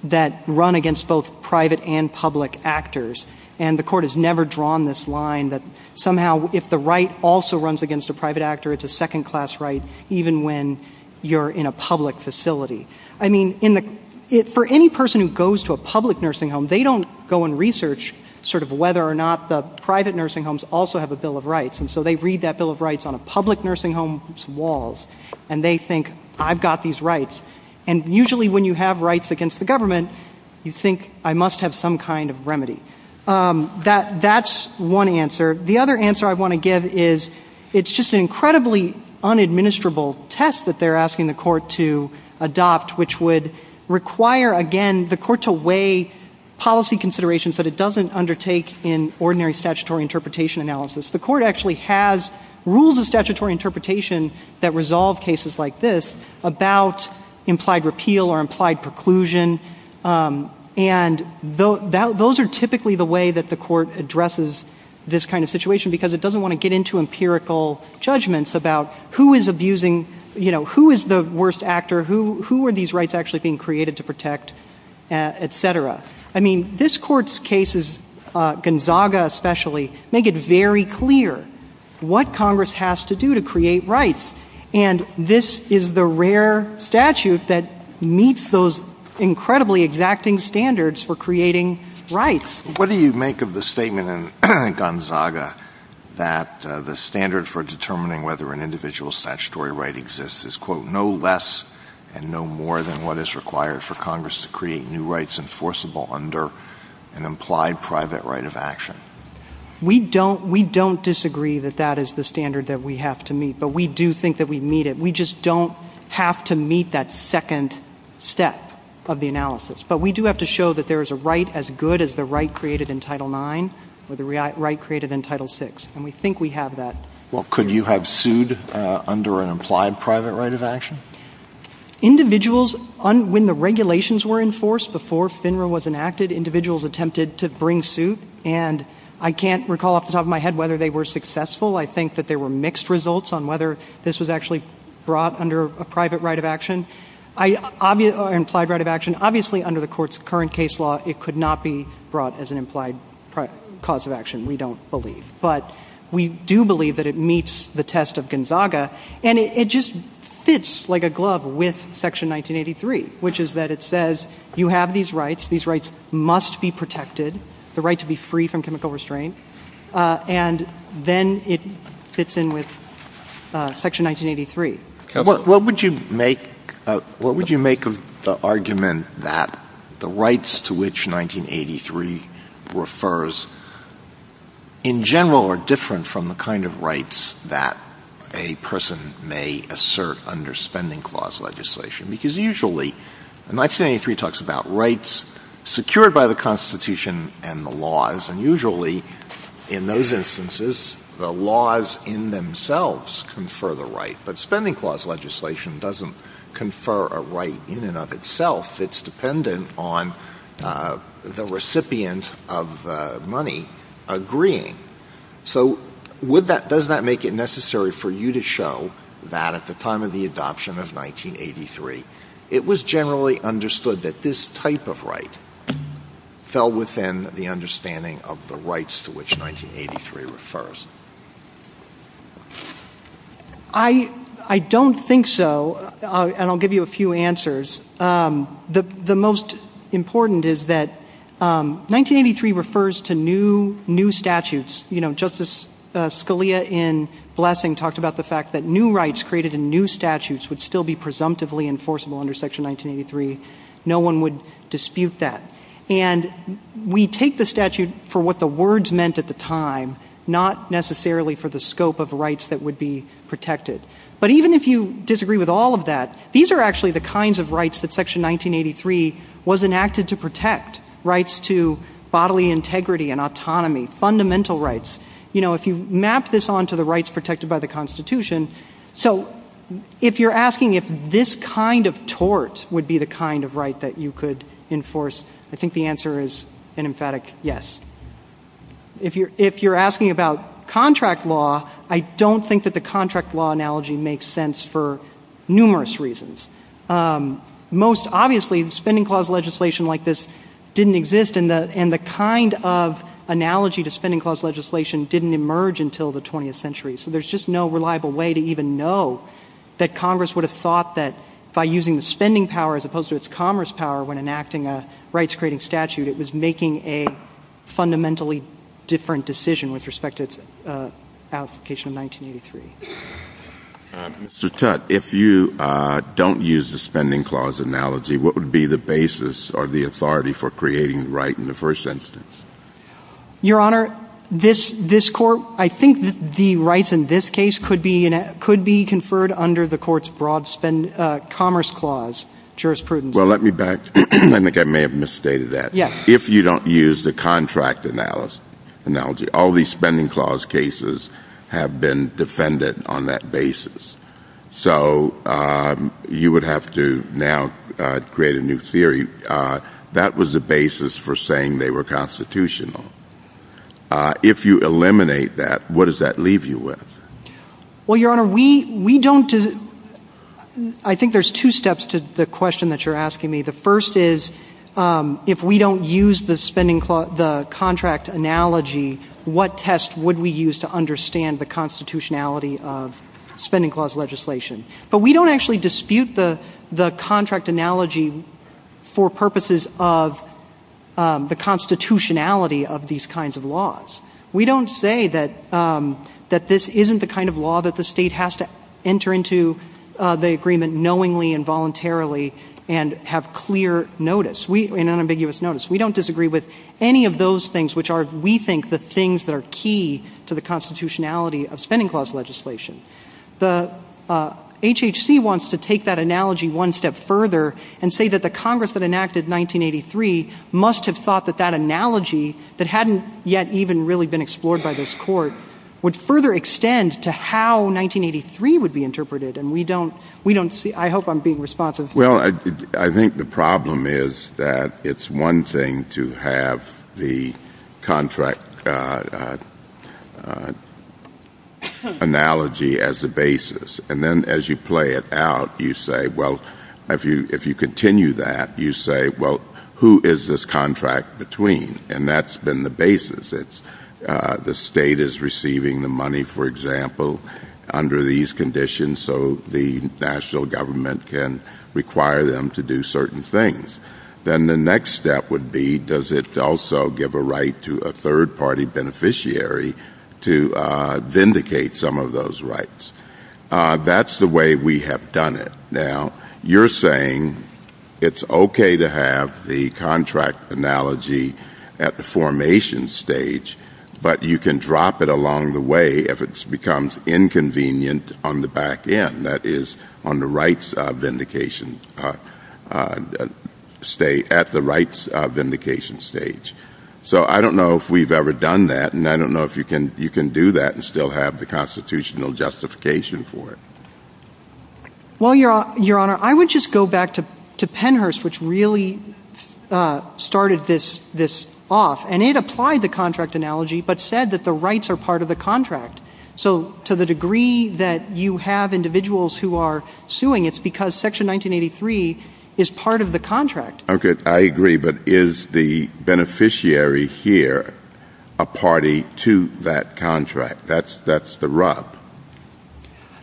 that run against both private and public actors. And the court has never drawn this line that somehow if the right also runs against a private actor, it's a second class right, even when you're in a public facility. I mean, in the, it, for any person who goes to a public nursing home, they don't go and research sort of whether or not the private nursing homes also have a bill of rights. And so they read that bill of rights on a public nursing home's walls. And they think, I've got these rights. And usually when you have rights against the government, you think I must have some kind of remedy. That, that's one answer. The other answer I want to give is, it's just an incredibly unadministerable test that they're asking the court to adopt, which would require, again, the court to weigh policy considerations that it doesn't undertake in ordinary statutory interpretation analysis. The court actually has rules of statutory interpretation that resolve cases like this about implied repeal or implied preclusion. And those are typically the way that the court addresses this kind of situation, because it doesn't want to get into empirical judgments about who is abusing, you know, who is the worst actor, who are these rights actually being created to protect, et cetera. I mean, this court's cases, Gonzaga especially, make it very clear what Congress has to do to create rights. And this is the rare statute that meets those incredibly exacting standards for creating rights. What do you make of the statement in Gonzaga that the standard for determining whether an individual statutory right exists is, quote, no less and no more than what is required for Congress to create new rights enforceable under an implied private right of action? We don't, we don't disagree that that is the standard that we have to meet. But we do think that we meet it. We just don't have to meet that second step of the analysis. But we do have to show that there is a right as good as the right created in Title IX or the right created in Title VI. And we think we have that. Well, could you have sued under an implied private right of action? Individuals, when the regulations were enforced before FINRA was enacted, individuals attempted to bring suit. And I can't recall off the top of my head whether they were successful. I think that there were mixed results on whether this was actually brought under a private right of action. Implied right of action, obviously under the court's current case law, it could not be brought as an implied cause of action, we don't believe. But we do believe that it meets the test of Gonzaga. And it just fits like a glove with Section 1983, which is that it says you have these rights. These rights must be protected, the right to be free from chemical restraint. And then it fits in with Section 1983. What would you make of the argument that the rights to which 1983 refers in general are different from the kind of rights that a person may assert under spending clause legislation? Because usually, 1983 talks about rights secured by the Constitution and the laws. And usually, in those instances, the laws in themselves confer the right. But spending clause legislation doesn't confer a right in and of itself. It's dependent on the recipient of money agreeing. So would that, does that make it necessary for you to show that at the time of the adoption of 1983, it was generally understood that this type of right fell within the understanding of the rights to which 1983 refers? I don't think so. And I'll give you a few answers. The most important is that 1983 refers to new statutes. You know, Justice Scalia in Blessing talked about the fact that new rights created in new statutes would still be presumptively enforceable under Section 1983. No one would dispute that. And we take the statute for what the words meant at the time, not necessarily for the scope of the rights that would be protected. But even if you disagree with all of that, these are actually the kinds of rights that Section 1983 was enacted to protect, rights to bodily integrity and autonomy, fundamental rights. You know, if you map this onto the rights protected by the Constitution. So if you're asking if this kind of tort would be the kind of right that you could enforce, I think the answer is an emphatic yes. If you're asking about contract law, I don't think that the contract law analogy makes sense for numerous reasons. Most obviously, the spending clause legislation like this didn't exist and the kind of analogy to spending clause legislation didn't emerge until the 20th century. So there's just no reliable way to even know that Congress would have thought that by using the spending power as opposed to its commerce power when enacting a rights-creating statute, it was making a fundamentally different decision with respect to its application in 1983. Mr. Tutte, if you don't use the spending clause analogy, what would be the basis or the authority for creating the right in the first instance? Your Honor, this Court, I think the rights in this case could be conferred under the Court's broad commerce clause, jurisprudence. Well, let me back to it. I think I may have misstated that. Yes. If you don't use the contract analogy, all these spending clause cases have been defended on that basis. So you would have to now create a new theory. That was the basis for saying they were constitutional. If you eliminate that, what does that leave you with? Well, Your Honor, we don't, I think there's two steps to the question that you're asking me. The first is if we don't use the spending clause, the contract analogy, what test would we use to understand the constitutionality of spending clause legislation? But we don't actually dispute the contract analogy for purposes of the constitutionality of these kinds of laws. We don't say that this isn't the kind of law that the state has to enter into the agreement knowingly and voluntarily and have clear notice, an unambiguous notice. We don't disagree with any of those things which are, we think, the things that are key to the constitutionality of spending clause legislation. The HHC wants to take that analogy one step further and say that the Congress that enacted 1983 must have thought that that analogy that hadn't yet even really been explored by this court would further extend to how 1983 would be interpreted. And we don't see, I hope I'm being responsive. Well, I think the problem is that it's one thing to have the contract analogy as the basis. And then as you play it out, you say, well, if you continue that, you say, well, who is this contract between? And that's been the basis. It's the state is receiving the money, for example, under these conditions so the national government can require them to do certain things. Then the next step would be does it also give a right to a third party beneficiary to vindicate some of those rights? That's the way we have done it. Now, you're saying it's okay to have the contract analogy at the formation stage but you can drop it along the way if it becomes inconvenient on the back end, that is on the rights vindication, at the rights vindication stage. So I don't know if we've ever done that and I don't know if you can do that and still have the constitutional justification for it. Well, Your Honor, I would just go back to Pennhurst which really started this off. And it applied the contract analogy but said that the rights are part of the contract. So to the degree that you have individuals who are suing, it's because Section 1983 is part of the contract. Okay, I agree but is the beneficiary here a party to that contract? That's the rub.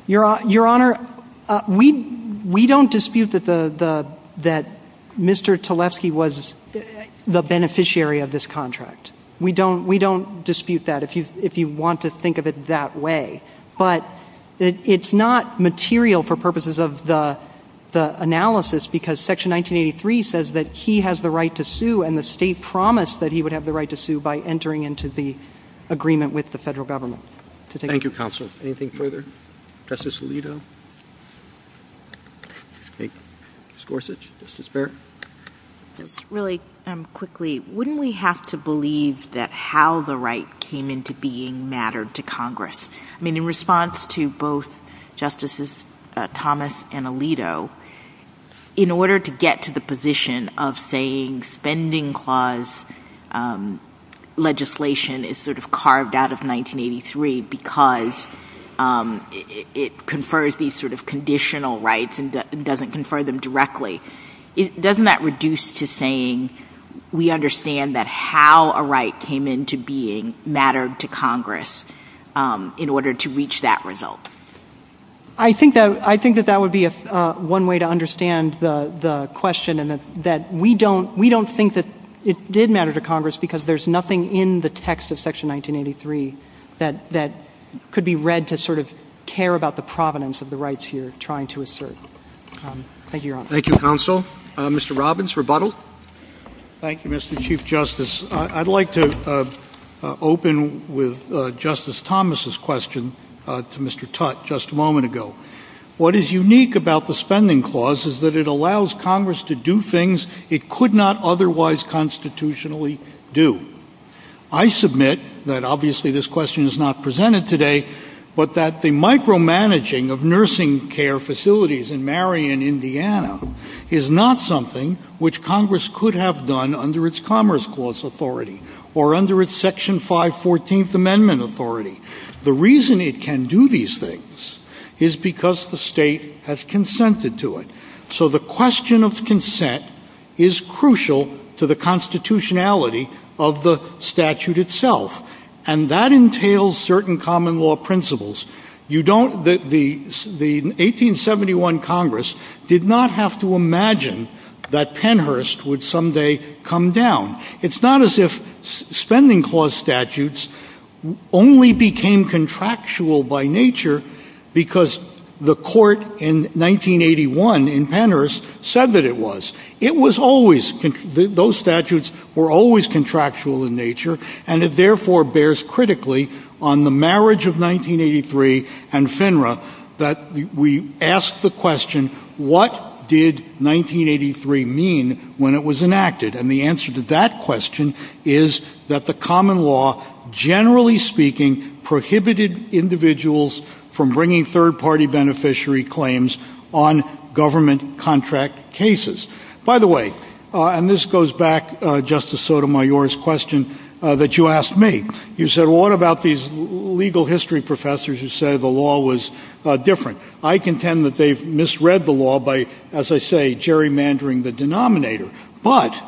Your Honor, we don't dispute that Mr. Tlefsky was the beneficiary of this contract. We don't dispute that if you want to think of it that way. But it's not material for purposes of the analysis because Section 1983 says that he has the right to sue and the state promised that he would have the right to sue by entering into the agreement with the federal government. Thank you, Counsel. Anything further? Justice Alito? Ms. Gorsuch, Justice Barrett? Really quickly, wouldn't we have to believe that how the right came into being mattered to Congress? I mean, in response to both Justices Thomas and Alito, in order to get to the position of saying spending clause legislation is sort of carved out of 1983 because it confers these sort of conditional rights and doesn't confer them directly, doesn't that reduce to saying we understand that how a right came into being mattered to Congress in order to reach that result? I think that that would be one way to understand the question and that we don't think that it did matter to Congress because there's nothing in the text of Section 1983 that could be read to sort of care about the provenance of the rights you're trying to assert. Thank you, Your Honor. Thank you, Counsel. Mr. Robbins, rebuttal? Thank you, Mr. Chief Justice. I'd like to open with Justice Thomas' question to Mr. Tutte just a moment ago. What is unique about the spending clause is that it allows Congress to do things it could not otherwise constitutionally do. I submit that obviously this question is not presented today, but that the micromanaging of nursing care facilities in Marion, Indiana, is not something which Congress could have done under its Commerce Clause Authority or under its Section 514th Amendment Authority. The reason it can do these things is because the state has consented to it. So the question of consent is crucial to the constitutionality of the statute itself and that entails certain common law principles. The 1871 Congress did not have to imagine that Pennhurst would someday come down. It's not as if spending clause statutes only became contractual by nature because the court in 1981 in Pennhurst said that it was. It was always, those statutes were always contractual in nature and it therefore bears critically on the marriage of 1983 and FINRA that we ask the question what did 1983 mean when it was enacted? And the answer to that question is that the common law, generally speaking, prohibited individuals from bringing third party beneficiary claims on government contract cases. By the way, and this goes back, Justice Sotomayor's question that you asked me. You said what about these legal history professors who say the law was different? I contend that they've misread the law by, as I say, gerrymandering the denominator. But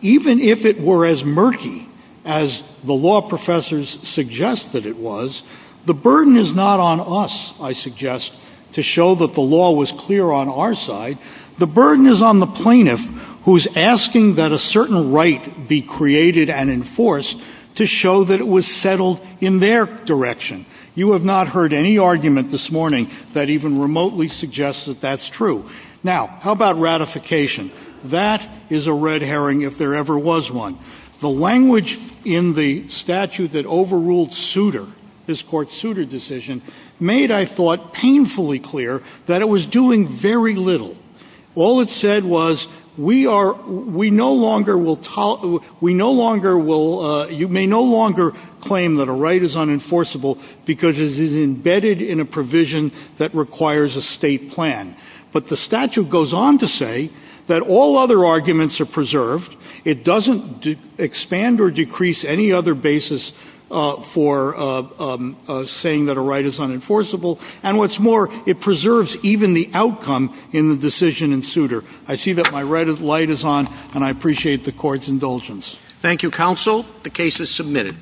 even if it were as murky as the law professors suggest that it was, the burden is not on us, I suggest, to show that the law was clear on our side. The burden is on the plaintiff who is asking that a certain right be created and enforced to show that it was settled in their direction. You have not heard any argument this morning that even remotely suggests that that's true. Now, how about ratification? That is a red herring if there ever was one. The language in the statute that overruled Souter, this court's Souter decision, made, I thought, painfully clear that it was doing very little. All it said was we are, we no longer will, we no longer will, you may no longer claim that a right is unenforceable because it is embedded in a provision that requires a state plan. But the statute goes on to say that all other arguments are preserved. It doesn't expand or decrease any other basis for saying that a right is unenforceable. And what's more, it preserves even the outcome in the decision in Souter. I see that my light is on, and I appreciate the court's indulgence. Thank you, counsel. The case is submitted.